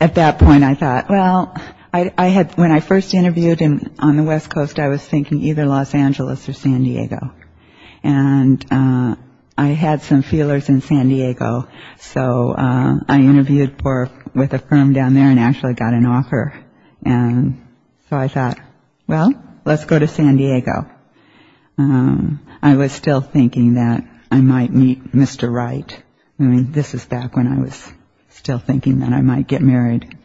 at that point I thought, well, when I first interviewed on the west coast, I was thinking either Los Angeles or San Diego. And I had some feelers in San Diego, so I interviewed with a firm down there and actually got an offer. And so I thought, well, let's go to San Diego. I was still thinking that I might meet Mr. Wright. I mean, this is back when I was still thinking that I might get married.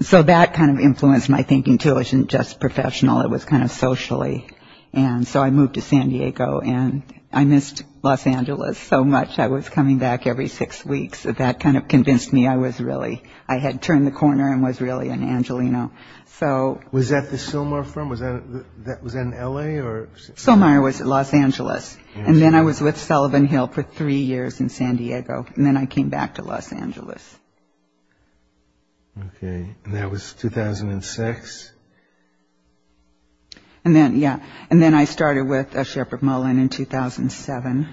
So that kind of influenced my thinking, too. It wasn't just professional. It was kind of socially. And so I moved to San Diego, and I missed Los Angeles so much. I was coming back every six weeks. That kind of convinced me I had turned the corner and was really an Angeleno. Was that the Silmire firm? Was that in L.A.? Silmire was in Los Angeles, and then I was with Sullivan Hill for three years in San Diego, and then I came back to Los Angeles. OK. And that was 2006? Yeah. And then I started with a Shepherd Mullin in 2007.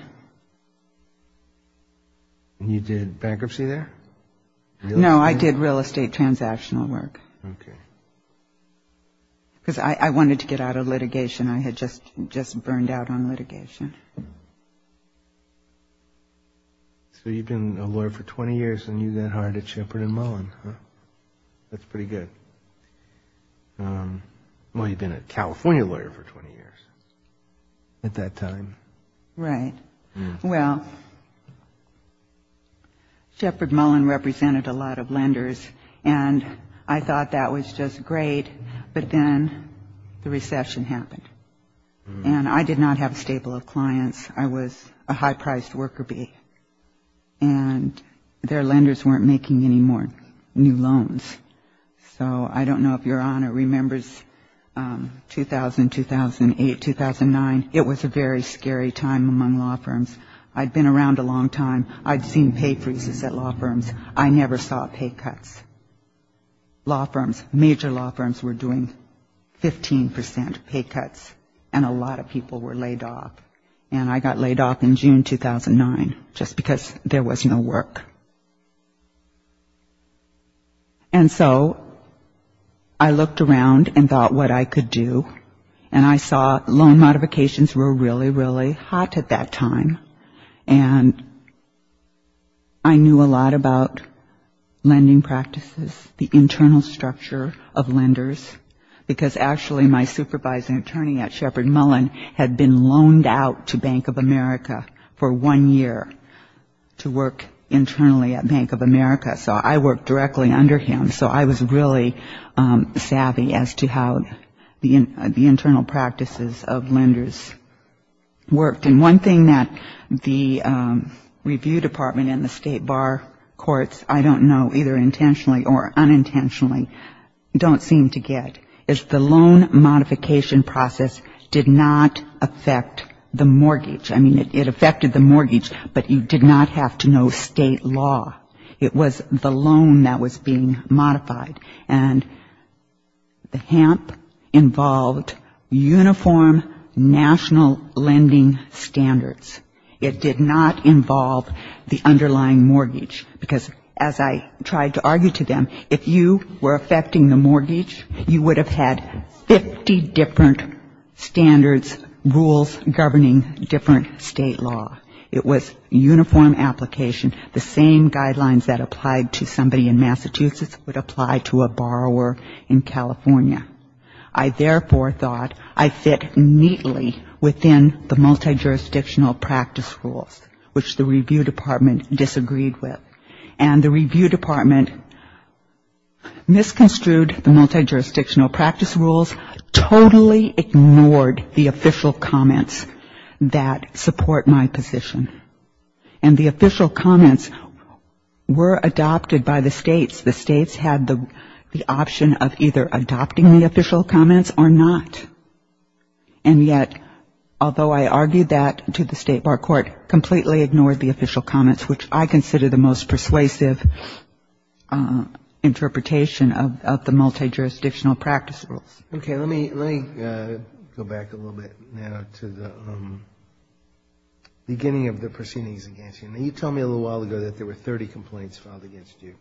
You did bankruptcy there? No, I did real estate transactional work. OK. Because I wanted to get out of litigation. I had just burned out on litigation. So you've been a lawyer for 20 years, and you then hired at Shepherd and Mullin, huh? That's pretty good. Well, you've been a California lawyer for 20 years at that time. Right. Yeah. Well, Shepherd Mullin represented a lot of lenders, and I thought that was just great. and I did not have a stable of clients. I was a high-priced worker bee, and their lenders weren't making any more new loans. So I don't know if your Honor remembers 2000, 2008, 2009. It was a very scary time among law firms. I'd been around a long time. I'd seen pay freezes at law firms. I never saw pay cuts. Major law firms were doing 15% pay cuts, and a lot of people were laid off, and I got laid off in June 2009 just because there was no work. And so I looked around and thought what I could do, and I saw loan modifications were really, really hot at that time, and I knew a lot about lending practices, the internal structure of lenders, because actually my supervising attorney at Shepherd Mullin had been loaned out to Bank of America for one year to work internally at Bank of America, so I worked directly under him, so I was really savvy as to how the internal practices of lenders worked. And one thing that the review department and the state bar courts, I don't know, either intentionally or unintentionally, don't seem to get is the loan modification process did not affect the mortgage. I mean, it affected the mortgage, but you did not have to know state law. It was the loan that was being modified, and the HAMP involved uniform national lending standards. It did not involve the underlying mortgage, because as I tried to argue to them, if you were affecting the mortgage, you would have had 50 different standards, rules governing different state law. It was uniform application, the same guidelines that applied to somebody in Massachusetts would apply to a borrower in California. I therefore thought I fit neatly within the multi-jurisdictional practice rules, which the review department disagreed with. And the review department misconstrued the multi-jurisdictional practice rules, totally ignored the official comments that support my position. And the official comments were adopted by the states. The states had the option of either adopting the official comments or not. And yet, although I argued that to the state bar court, completely ignored the official comments, which I consider the most persuasive interpretation of the multi-jurisdictional practice rules. Okay, let me go back a little bit now to the beginning of the proceedings against you. You told me a little while ago that there were 30 complaints filed against you.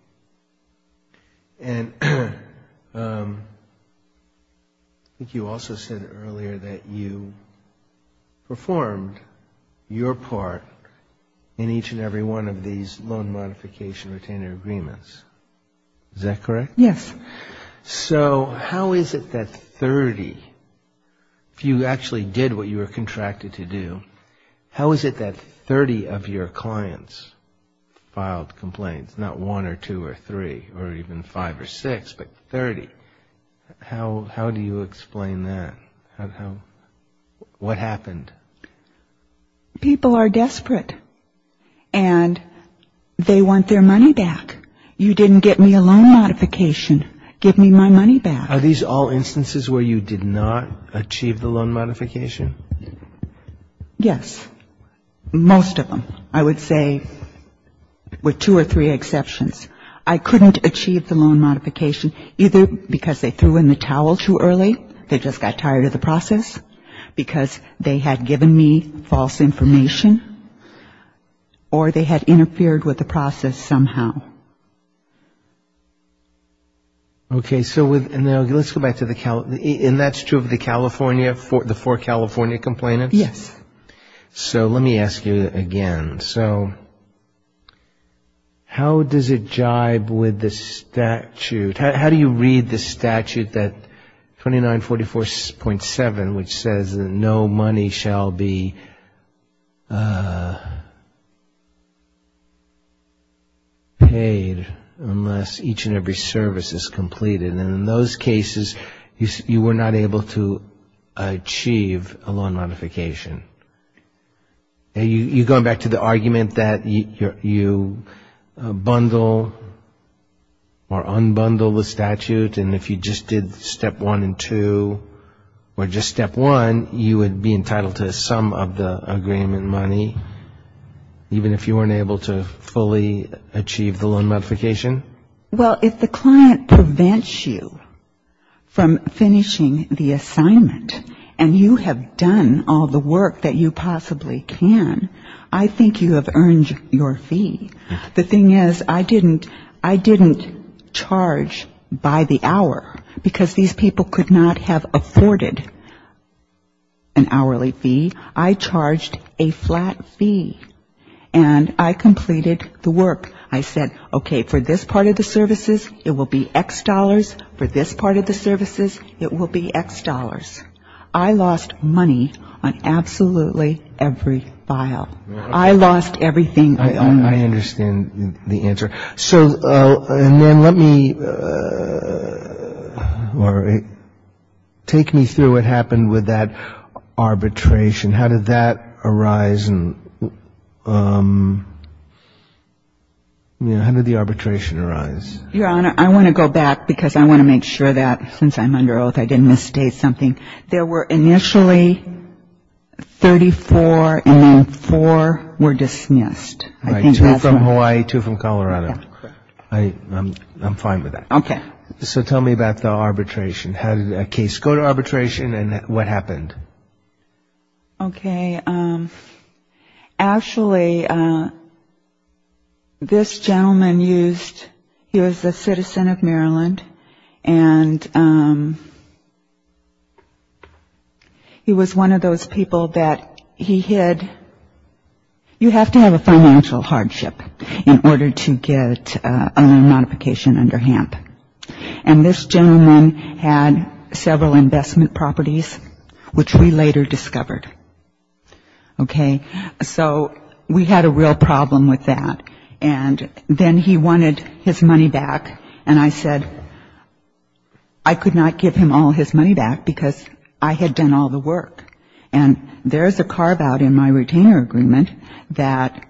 And I think you also said earlier that you performed your part in each and every one of these loan modification retainer agreements. Is that correct? Yes. So how is it that 30, if you actually did what you were contracted to do, how is it that 30 of your clients filed complaints, not one or two or three or even five or six, but 30? How do you explain that? What happened? People are desperate. And they want their money back. You didn't get me a loan modification. Give me my money back. Are these all instances where you did not achieve the loan modification? Yes. Most of them. I would say with two or three exceptions. I couldn't achieve the loan modification either because they threw in the towel too early, they just got tired of the process, because they had given me false information, or they had interfered with the process somehow. Okay. So let's go back to the California, and that's true of the California, the four California complainants? Yes. So let me ask you again. So how does it jibe with the statute? How do you read the statute, that 2944.7, which says, no money shall be paid unless each and every service is completed? And in those cases, you were not able to achieve a loan modification. You're going back to the argument that you bundle or unbundle the statute, and if you just did step one and two, or just step one, you would be entitled to some of the agreement money, even if you weren't able to fully achieve the loan modification? Well, if the client prevents you from finishing the assignment, and you have done all the work that you possibly can, I think you have earned your fee. The thing is, I didn't charge by the hour, because these people could not have afforded an hourly fee. I charged a flat fee, and I completed the work. I said, okay, for this part of the services, it will be X dollars. I lost money on absolutely every file. I lost everything. I understand the answer. So, and then let me, all right, take me through what happened with that arbitration. How did that arise, and how did the arbitration arise? Your Honor, I want to go back, because I want to make sure that, since I'm under oath, I didn't misstate something. There were initially 34, and now four were dismissed. All right, two from Hawaii, two from Colorado. I'm fine with that. Okay. So tell me about the arbitration. How did the case go to arbitration, and what happened? Okay. Actually, this gentleman used, he was a citizen of Maryland, and he was one of those people that he had, you have to have a financial hardship in order to get a loan modification under HAMP. And this gentleman had several investment properties, which we later discovered. Okay. So we had a real problem with that. And then he wanted his money back, and I said, I could not give him all his money back, because I had done all the work. And there's a carve-out in my retainer agreement that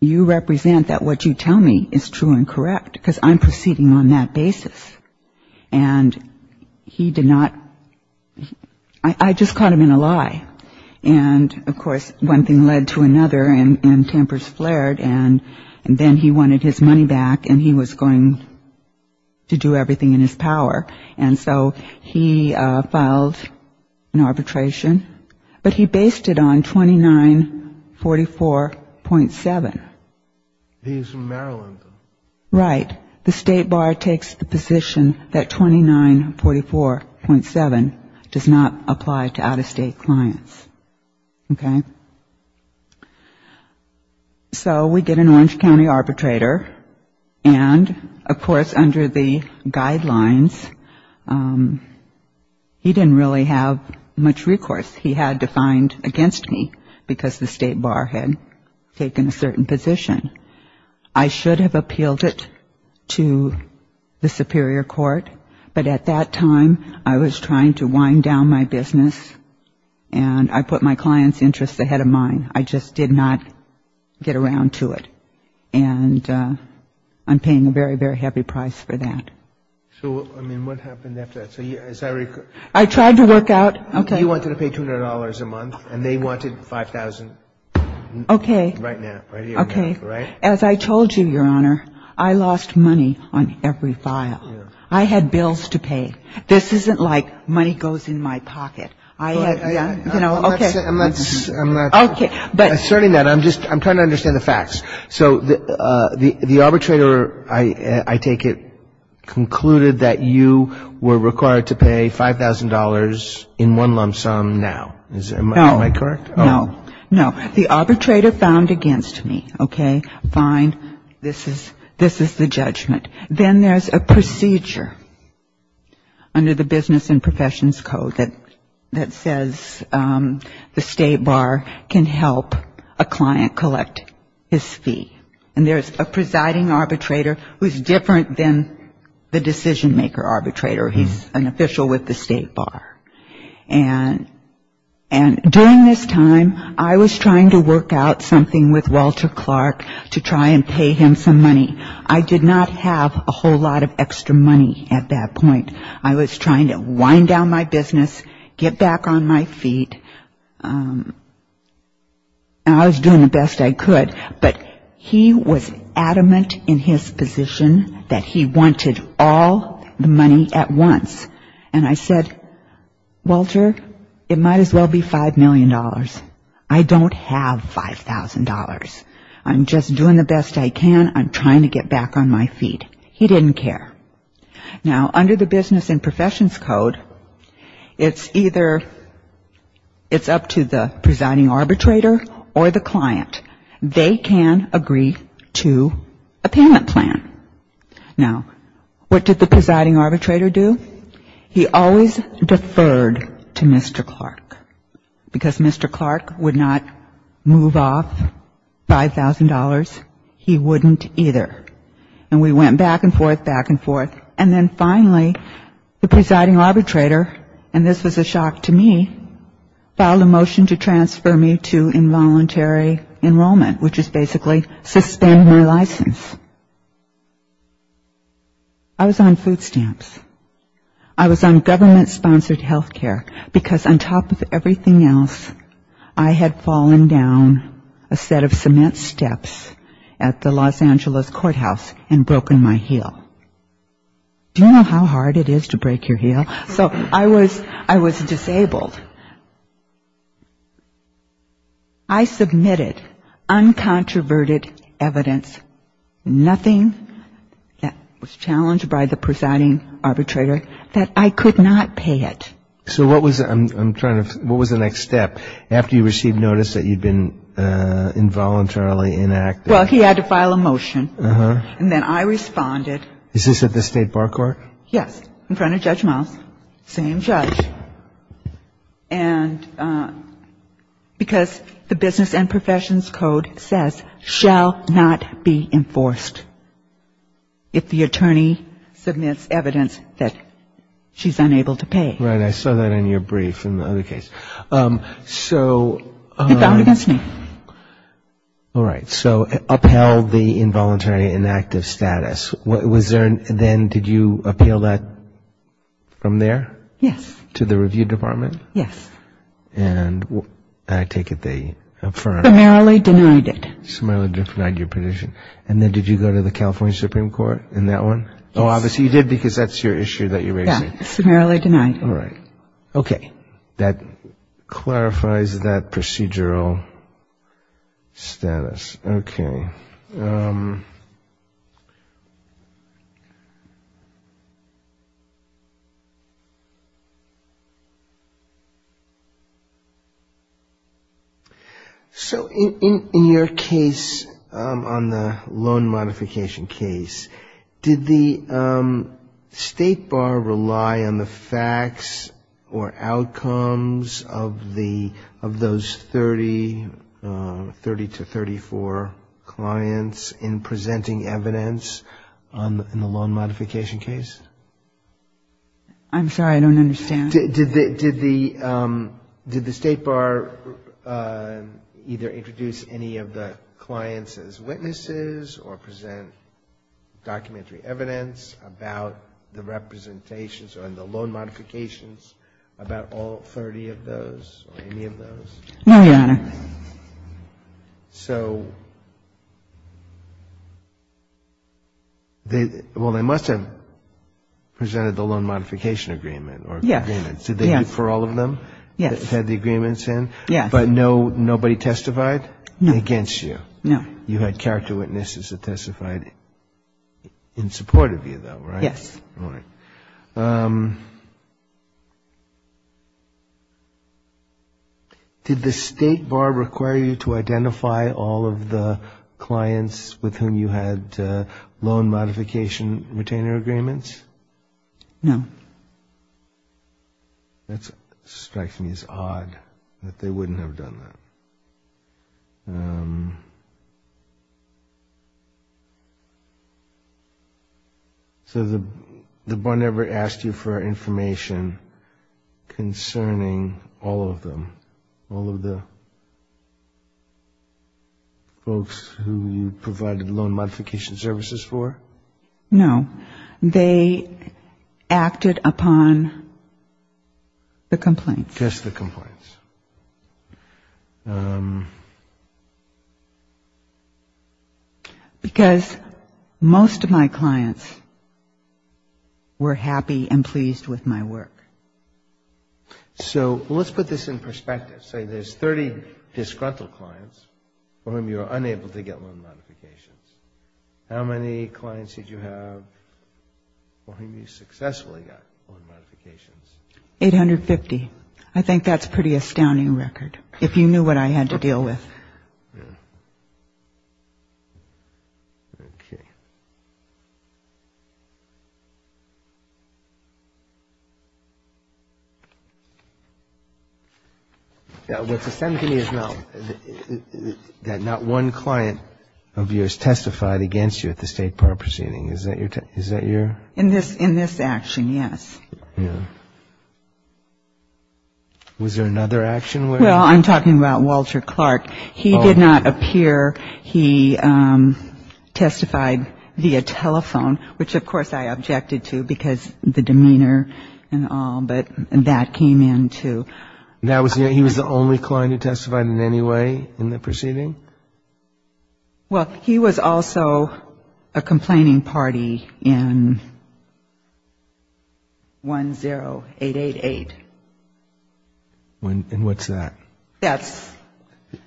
you represent that what you tell me is true and correct, because I'm proceeding on that basis. And he did not, I just caught him in a lie. And, of course, one thing led to another, and tempers flared. And then he wanted his money back, and he was going to do everything in his power. And so he filed an arbitration. But he based it on 2944.7. He's from Maryland. Right. The state bar takes the position that 2944.7 does not apply to out-of-state clients. Okay. So we did an Orange County arbitrator. And, of course, under the guidelines, he didn't really have much recourse. He had to find against me, because the state bar had taken a certain position. I should have appealed it to the superior court, but at that time I was trying to wind down my business, and I put my client's interests ahead of mine. I just did not get around to it. And I'm paying a very, very heavy price for that. So, I mean, what happened after that? I tried to work out. Okay. You wanted to pay $200 a month, and they wanted $5,000 right now. Okay. As I told you, Your Honor, I lost money on every file. I had bills to pay. This isn't like money goes in my pocket. I'm not asserting that. I'm trying to understand the facts. So the arbitrator, I take it, concluded that you were required to pay $5,000 in one lump sum now. Am I correct? No. No. The arbitrator found against me. Okay. Fine. This is the judgment. Then there's a procedure under the Business and Professions Code that says the State Bar can help a client collect his fee. And there's a presiding arbitrator who's different than the decision-maker arbitrator. He's an official with the State Bar. And during this time, I was trying to work out something with Walter Clark to try and pay him some money. I did not have a whole lot of extra money at that point. I was trying to wind down my business, get back on my feet, and I was doing the best I could. But he was adamant in his position that he wanted all the money at once. And I said, Walter, it might as well be $5 million. I don't have $5,000. I'm just doing the best I can. I'm trying to get back on my feet. He didn't care. Now, under the Business and Professions Code, it's either it's up to the presiding arbitrator or the client. They can agree to a payment plan. Now, what did the presiding arbitrator do? He always deferred to Mr. Clark because Mr. Clark would not move off $5,000. He wouldn't either. And we went back and forth, back and forth. And then finally, the presiding arbitrator, and this was a shock to me, filed a motion to transfer me to involuntary enrollment, which is basically suspending my license. I was on food stamps. I was on government-sponsored health care because on top of everything else, I had fallen down a set of cement steps at the Los Angeles courthouse and broken my heel. Do you know how hard it is to break your heel? So I was disabled. I submitted uncontroverted evidence, nothing that was challenged by the presiding arbitrator, that I could not pay it. So what was the next step after you received notice that you'd been involuntarily inactive? Well, he had to file a motion. And then I responded. Is this at the state bar court? Yes. In front of Judge Miles. Same judge. And because the business and professions code says, shall not be enforced if the attorney submits evidence that she's unable to pay. Right. I saw that in your brief in the other case. It's out against me. All right. So upheld the involuntary inactive status. Then did you appeal that from there? Yes. To the review department? Yes. And I take it they affirmed. No, they summarily denied it. Summarily denied your position. And then did you go to the California Supreme Court in that one? Oh, obviously you did because that's your issue that you're raising. Yeah. Summarily denied. All right. OK. That clarifies that procedural status. Yes. OK. So in your case on the loan modification case, did the State Bar rely on the facts or outcomes of those 30 to 34 clients in presenting evidence on the loan modification case? I'm sorry. I don't understand. Did the State Bar either introduce any of the clients as witnesses or present documentary evidence about the representations or the loan modifications about all 30 of those or any of those? No, Your Honor. So, well, they must have presented the loan modification agreement. Yes. Did they do it for all of them? Yes. Had the agreements in? Yes. But nobody testified against you? No. You had character witnesses that testified in support of you, though, right? Yes. All right. OK. Did the State Bar require you to identify all of the clients with whom you had loan modification retainer agreements? No. That strikes me as odd that they wouldn't have done that. OK. So the Bar never asked you for information concerning all of them, all of the folks who you provided loan modification services for? No. They acted upon the complaints. Just the complaints. Because most of my clients were happy and pleased with my work. So let's put this in perspective. Say there's 30 disgruntled clients for whom you were unable to get loan modifications. How many clients did you have for whom you successfully got loan modifications? 850. I think that's a pretty astounding record, if you knew what I had to deal with. OK. Now, what this tells me is now that not one client of yours testified against you at the State Bar proceeding. Is that your...? In this action, yes. Was there another action where...? Well, I'm talking about Walter Clark. He did not appear. He testified via telephone, which of course I objected to because the demeanor and all, but that came in, too. He was the only client who testified in any way in the proceeding? Well, he was also a complaining party in 10888. And what's that? That's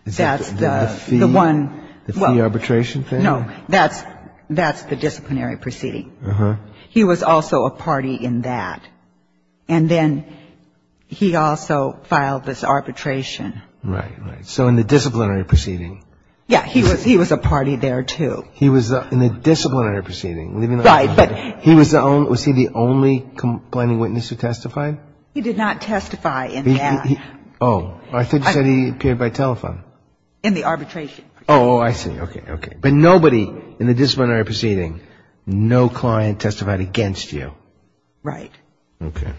the one... The fee arbitration thing? No, that's the disciplinary proceeding. He was also a party in that. And then he also filed this arbitration. Right, right. So in the disciplinary proceeding? Yeah, he was a party there, too. He was in the disciplinary proceeding? Right, but... Was he the only complaining witness who testified? He did not testify in that. Oh, I thought you said he appeared by telephone. In the arbitration. Oh, I see. OK, OK. But nobody in the disciplinary proceeding, no client testified against you? Right. OK.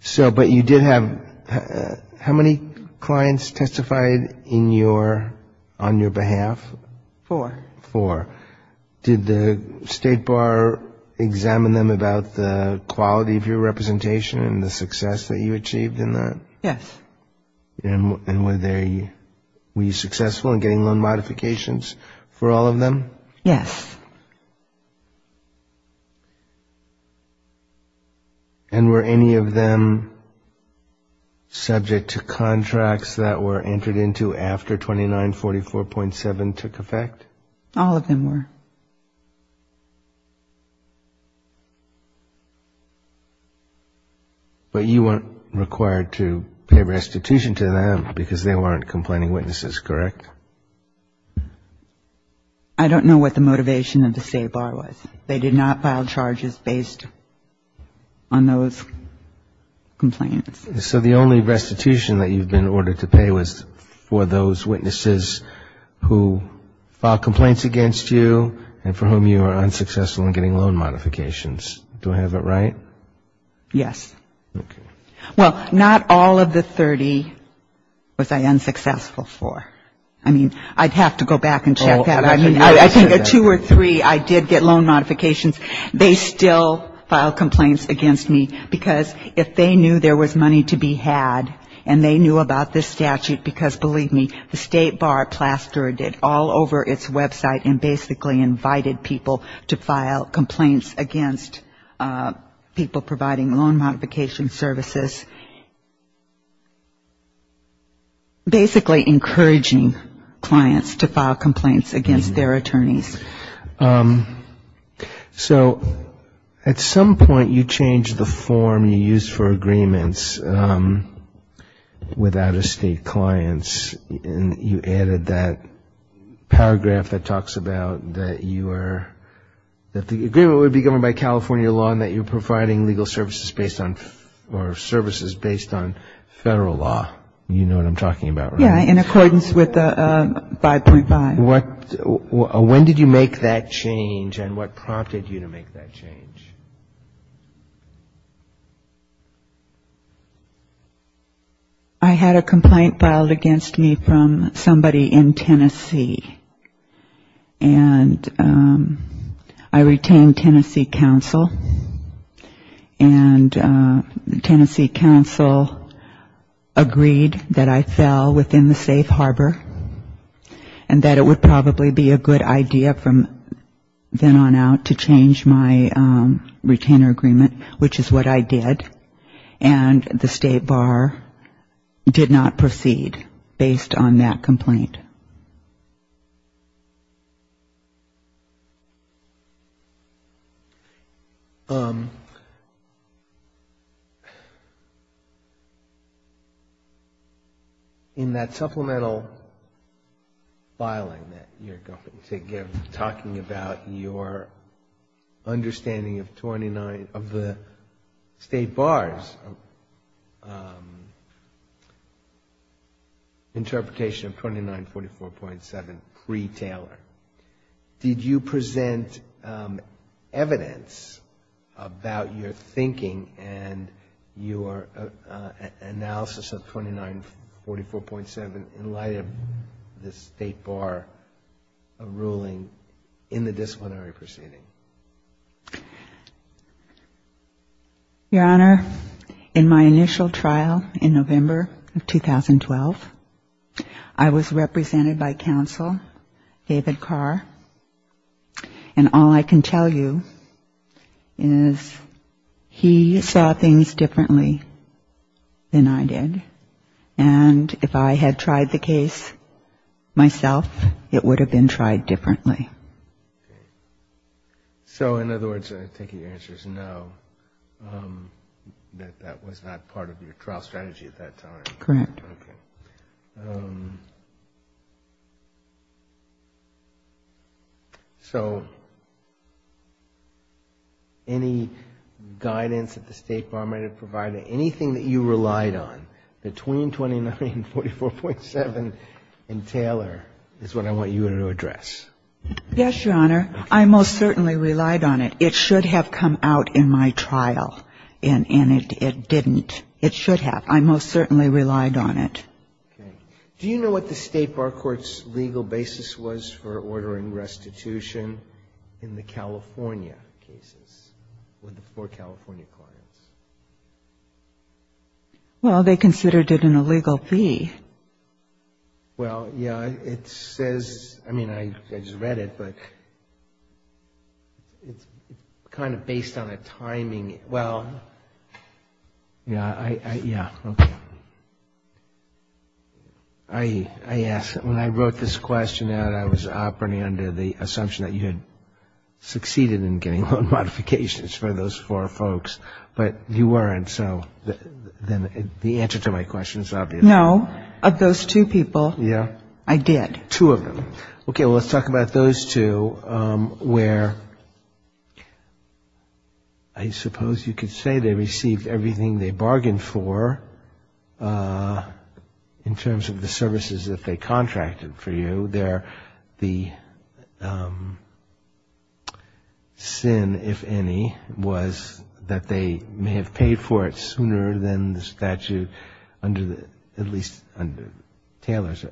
So, but you did have... How many clients testified in your... on your behalf? Four. Four. Did the State Bar examine them about the quality of your representation and the success that you achieved in that? Yes. And were they... Were you successful in getting loan modifications for all of them? Yes. And were any of them subject to contracts that were entered into after 2944.7 took effect? All of them were. OK. But you weren't required to pay restitution to them because they weren't complaining witnesses, correct? I don't know what the motivation of the State Bar was. They did not file charges based on those complaints. So the only restitution that you've been ordered to pay was for those witnesses who filed complaints against you and for whom you were unsuccessful in getting loan modifications. Do I have it right? Yes. OK. Well, not all of the 30 was I unsuccessful for. I mean, I'd have to go back and check that. I mean, I think there are two or three I did get loan modifications. They still file complaints against me because if they knew there was money to be had and they knew about this statute because, believe me, the State Bar plastered it all over its website and basically invited people to file complaints against people providing loan modification services, basically encouraging clients to file complaints against their attorneys. So at some point you changed the form you used for agreements with out-of-state clients and you added that paragraph that talks about that the agreement would be governed by California law and that you're providing legal services based on federal law. You know what I'm talking about, right? Yeah, in accordance with 535. When did you make that change and what prompted you to make that change? I had a complaint filed against me from somebody in Tennessee, and I retained Tennessee counsel, and Tennessee counsel agreed that I fell within the safe harbor and that it would probably be a good idea from then on out to change my retainer agreement, which is what I did, and the State Bar did not proceed based on that complaint. In that supplemental filing that you're talking about, your understanding of the State Bar's interpretation of 2944.7 pre-Taylor, did you present evidence about your thinking and your analysis of 2944.7 in light of the State Bar ruling in the disciplinary proceeding? Your Honor, in my initial trial in November of 2012, I was represented by counsel, David Carr, and all I can tell you is he saw things differently than I did, and if I had tried the case myself, it would have been tried differently. So in other words, I think he answers no, that that was not part of your trial strategy at that time. Correct. Okay. So any guidance that the State Bar may have provided, anything that you relied on between 2944.7 and Taylor is what I want you to address. Yes, Your Honor. I most certainly relied on it. It should have come out in my trial, and it didn't. It should have. I most certainly relied on it. Okay. Do you know what the State Bar Court's legal basis was for order and restitution in the California cases, for the California client? Well, they considered it an illegal fee. Well, yeah, it says, I mean, I just read it, but it's kind of based on a timing. Well, yeah, okay. I asked, when I wrote this question out, I was operating under the assumption that you had succeeded in getting loan modifications for those four folks, but you weren't, so then the answer to my question is obvious. No, of those two people, I did. Two of them. Okay, let's talk about those two where I suppose you could say they received everything they bargained for in terms of the services that they contracted for you. The sin, if any, was that they may have paid for it sooner than the statute, under at least Taylor's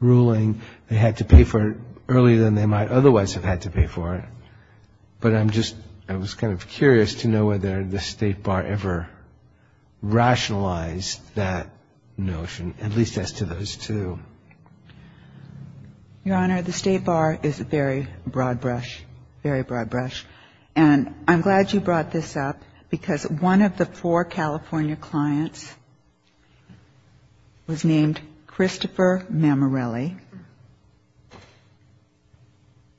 ruling, they had to pay for it earlier than they might otherwise have had to pay for it. But I'm just, I was kind of curious to know whether the State Bar ever rationalized that notion, at least as to those two. Your Honor, the State Bar is a very broad brush, very broad brush. And I'm glad you brought this up because one of the four California clients was named Christopher Mamarelli.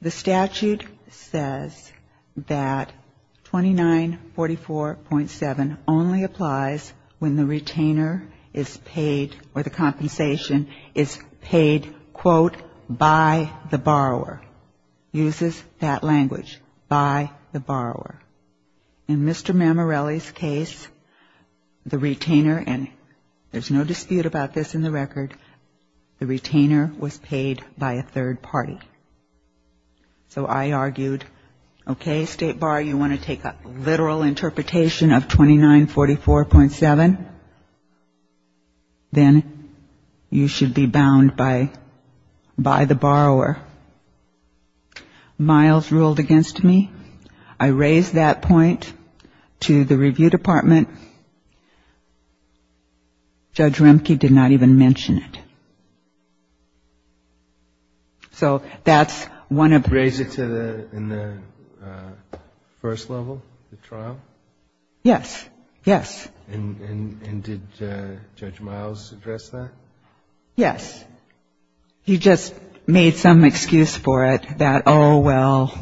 The statute says that 2944.7 only applies when the retainer is paid or the compensation is paid, quote, by the borrower, uses that language, by the borrower. In Mr. Mamarelli's case, the retainer, and there's no dispute about this in the record, the retainer was paid by a third party. So I argued, okay, State Bar, you want to take a literal interpretation of 2944.7, then you should be bound by the borrower. Miles ruled against me. I raised that point to the review department. Judge Rimke did not even mention it. So that's one of the... You raised it in the first level, the trial? Yes, yes. And did Judge Miles address that? Yes. He just made some excuse for it that, oh, well,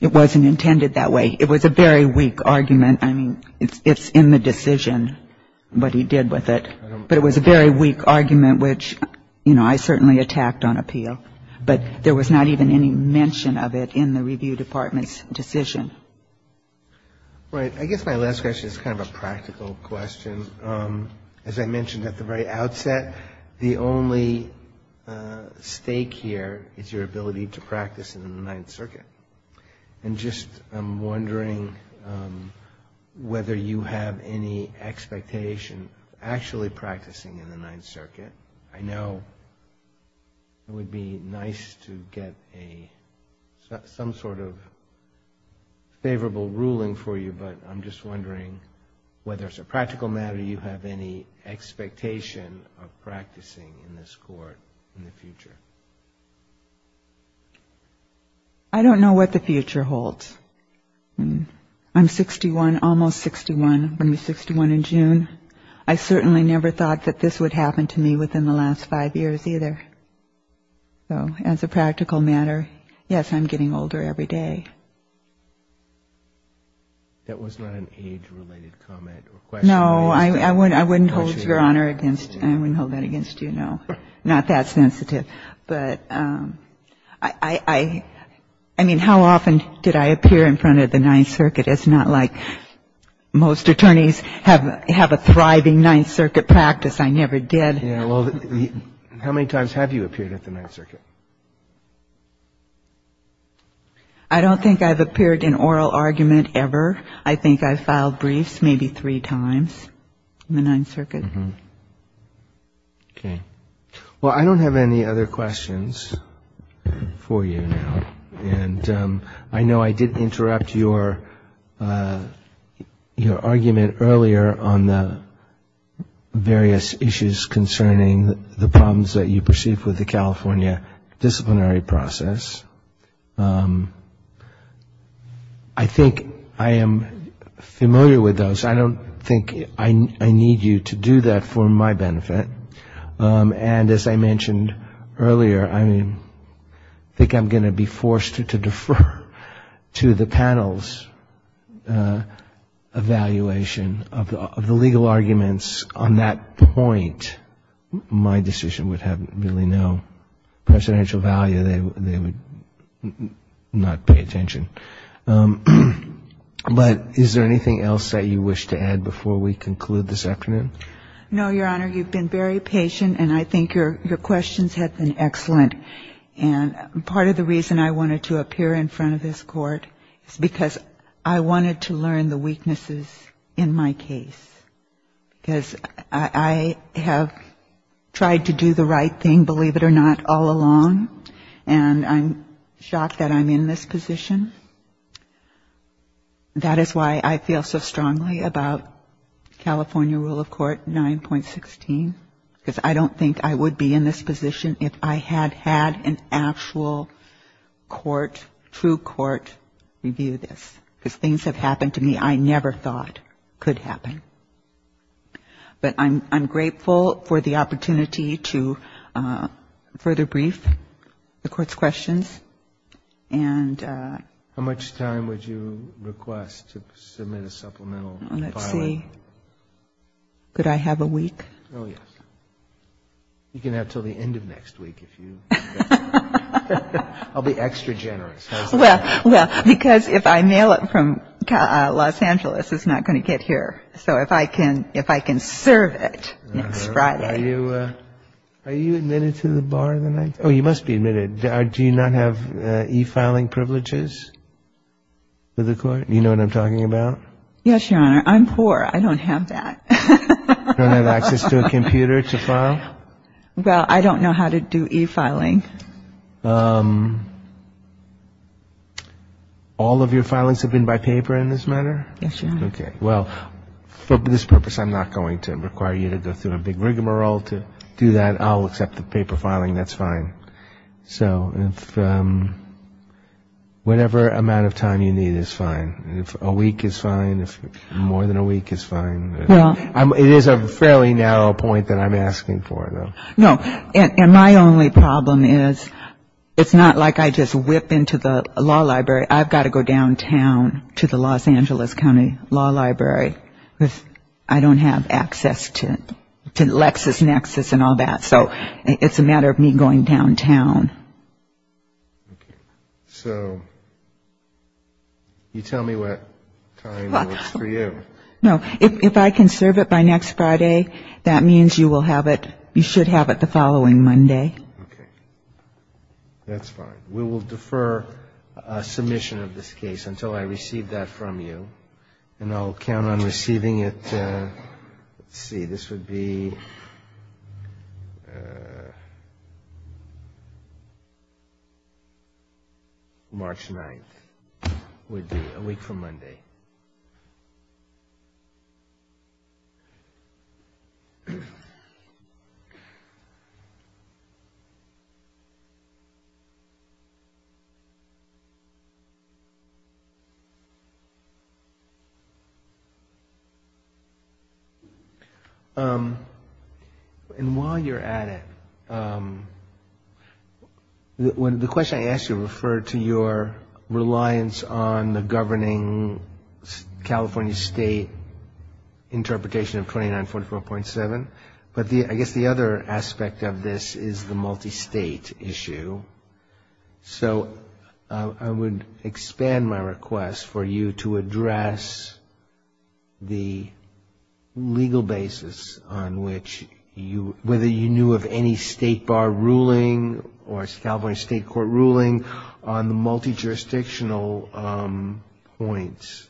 it wasn't intended that way. It was a very weak argument. I mean, it's in the decision, what he did with it. But it was a very weak argument, which, you know, I certainly attacked on appeal. But there was not even any mention of it in the review department's decision. Right. I guess my last question is kind of a practical question. As I mentioned at the very outset, the only stake here is your ability to practice in the Ninth Circuit. And just I'm wondering whether you have any expectation, actually practicing in the Ninth Circuit. I know it would be nice to get some sort of favorable ruling for you, but I'm just wondering whether as a practical matter you have any expectation of practicing in this court in the future. I don't know what the future holds. I'm 61, almost 61. I'm 61 in June. I certainly never thought that this would happen to me within the last five years either. So as a practical matter, yes, I'm getting older every day. That was not an age-related comment or question. No, I wouldn't hold that against you, no. Not that sensitive. But I mean, how often did I appear in front of the Ninth Circuit? It's not like most attorneys have a thriving Ninth Circuit practice. I never did. How many times have you appeared at the Ninth Circuit? I don't think I've appeared in oral argument ever. I think I filed briefs maybe three times in the Ninth Circuit. Well, I don't have any other questions for you now. And I know I did interrupt your argument earlier on the various issues concerning the problems that you perceived with the California disciplinary process. I think I am familiar with those. I don't think I need you to do that for my benefit. And as I mentioned earlier, I think I'm going to be forced to defer to the panel's evaluation of the legal arguments. On that point, my decision would have really no presidential value. They would not pay attention. But is there anything else that you wish to add before we conclude this afternoon? No, Your Honor. You've been very patient, and I think your questions have been excellent. And part of the reason I wanted to appear in front of this Court is because I wanted to learn the weaknesses in my case. Because I have tried to do the right thing, believe it or not, all along, and I'm shocked that I'm in this position. That is why I feel so strongly about California Rule of Court 9.16, because I don't think I would be in this position if I had had an actual court, true court review this. Because things have happened to me I never thought could happen. But I'm grateful for the opportunity to further brief the Court's questions How much time would you request to submit a supplemental file? Let's see. Could I have a week? Oh, yes. You can have until the end of next week if you think. I'll be extra generous. Well, because if I mail it from Los Angeles, it's not going to get here. So if I can serve it next Friday. Are you admitted to the bar tonight? Oh, you must be admitted. Do you not have e-filing privileges with the Court? Do you know what I'm talking about? Yes, Your Honor. I'm poor. I don't have that. You don't have access to a computer to file? Well, I don't know how to do e-filing. All of your filings have been by paper in this matter? Yes, Your Honor. Okay. Well, for this purpose, I'm not going to require you to go through a big rigmarole to do that. I'll accept the paper filing. That's fine. Whatever amount of time you need is fine. A week is fine. More than a week is fine. It is a fairly narrow point that I'm asking for, though. No, and my only problem is it's not like I just whip into the law library. I've got to go downtown to the Los Angeles County Law Library. I don't have access to LexisNexis and all that. So it's a matter of me going downtown. Okay. So you tell me what time it is for you. No, if I can serve it by next Friday, that means you should have it the following Monday. Okay. That's fine. We will defer submission of this case until I receive that from you, and I'll count on receiving it. Let's see. This would be March 9th. It would be a week from Monday. Okay. And while you're at it, the question I asked you referred to your reliance on the governing California State interpretation of 2944.7. But I guess the other aspect of this is the multi-state issue. So I would expand my request for you to address the legal basis on which you, whether you knew of any state bar ruling or established state court ruling on the multi-jurisdictional points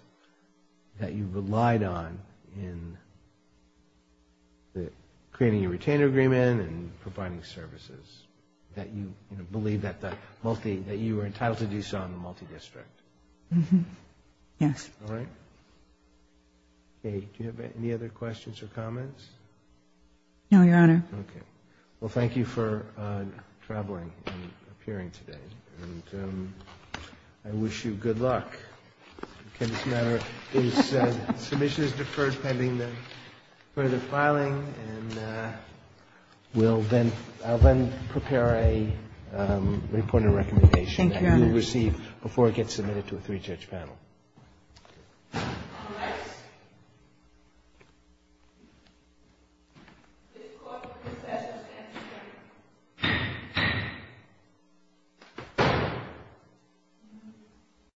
that you relied on in creating a retainer agreement and providing services, that you believed that you were entitled to do so in the multi-district. Yes. All right. Okay. Do you have any other questions or comments? No, Your Honor. Okay. Well, thank you for traveling and appearing today. I wish you good luck. This matter is deferred pending further filing. And I'll then prepare a report of recommendation that you receive before it gets submitted to a three-judge panel. Thank you.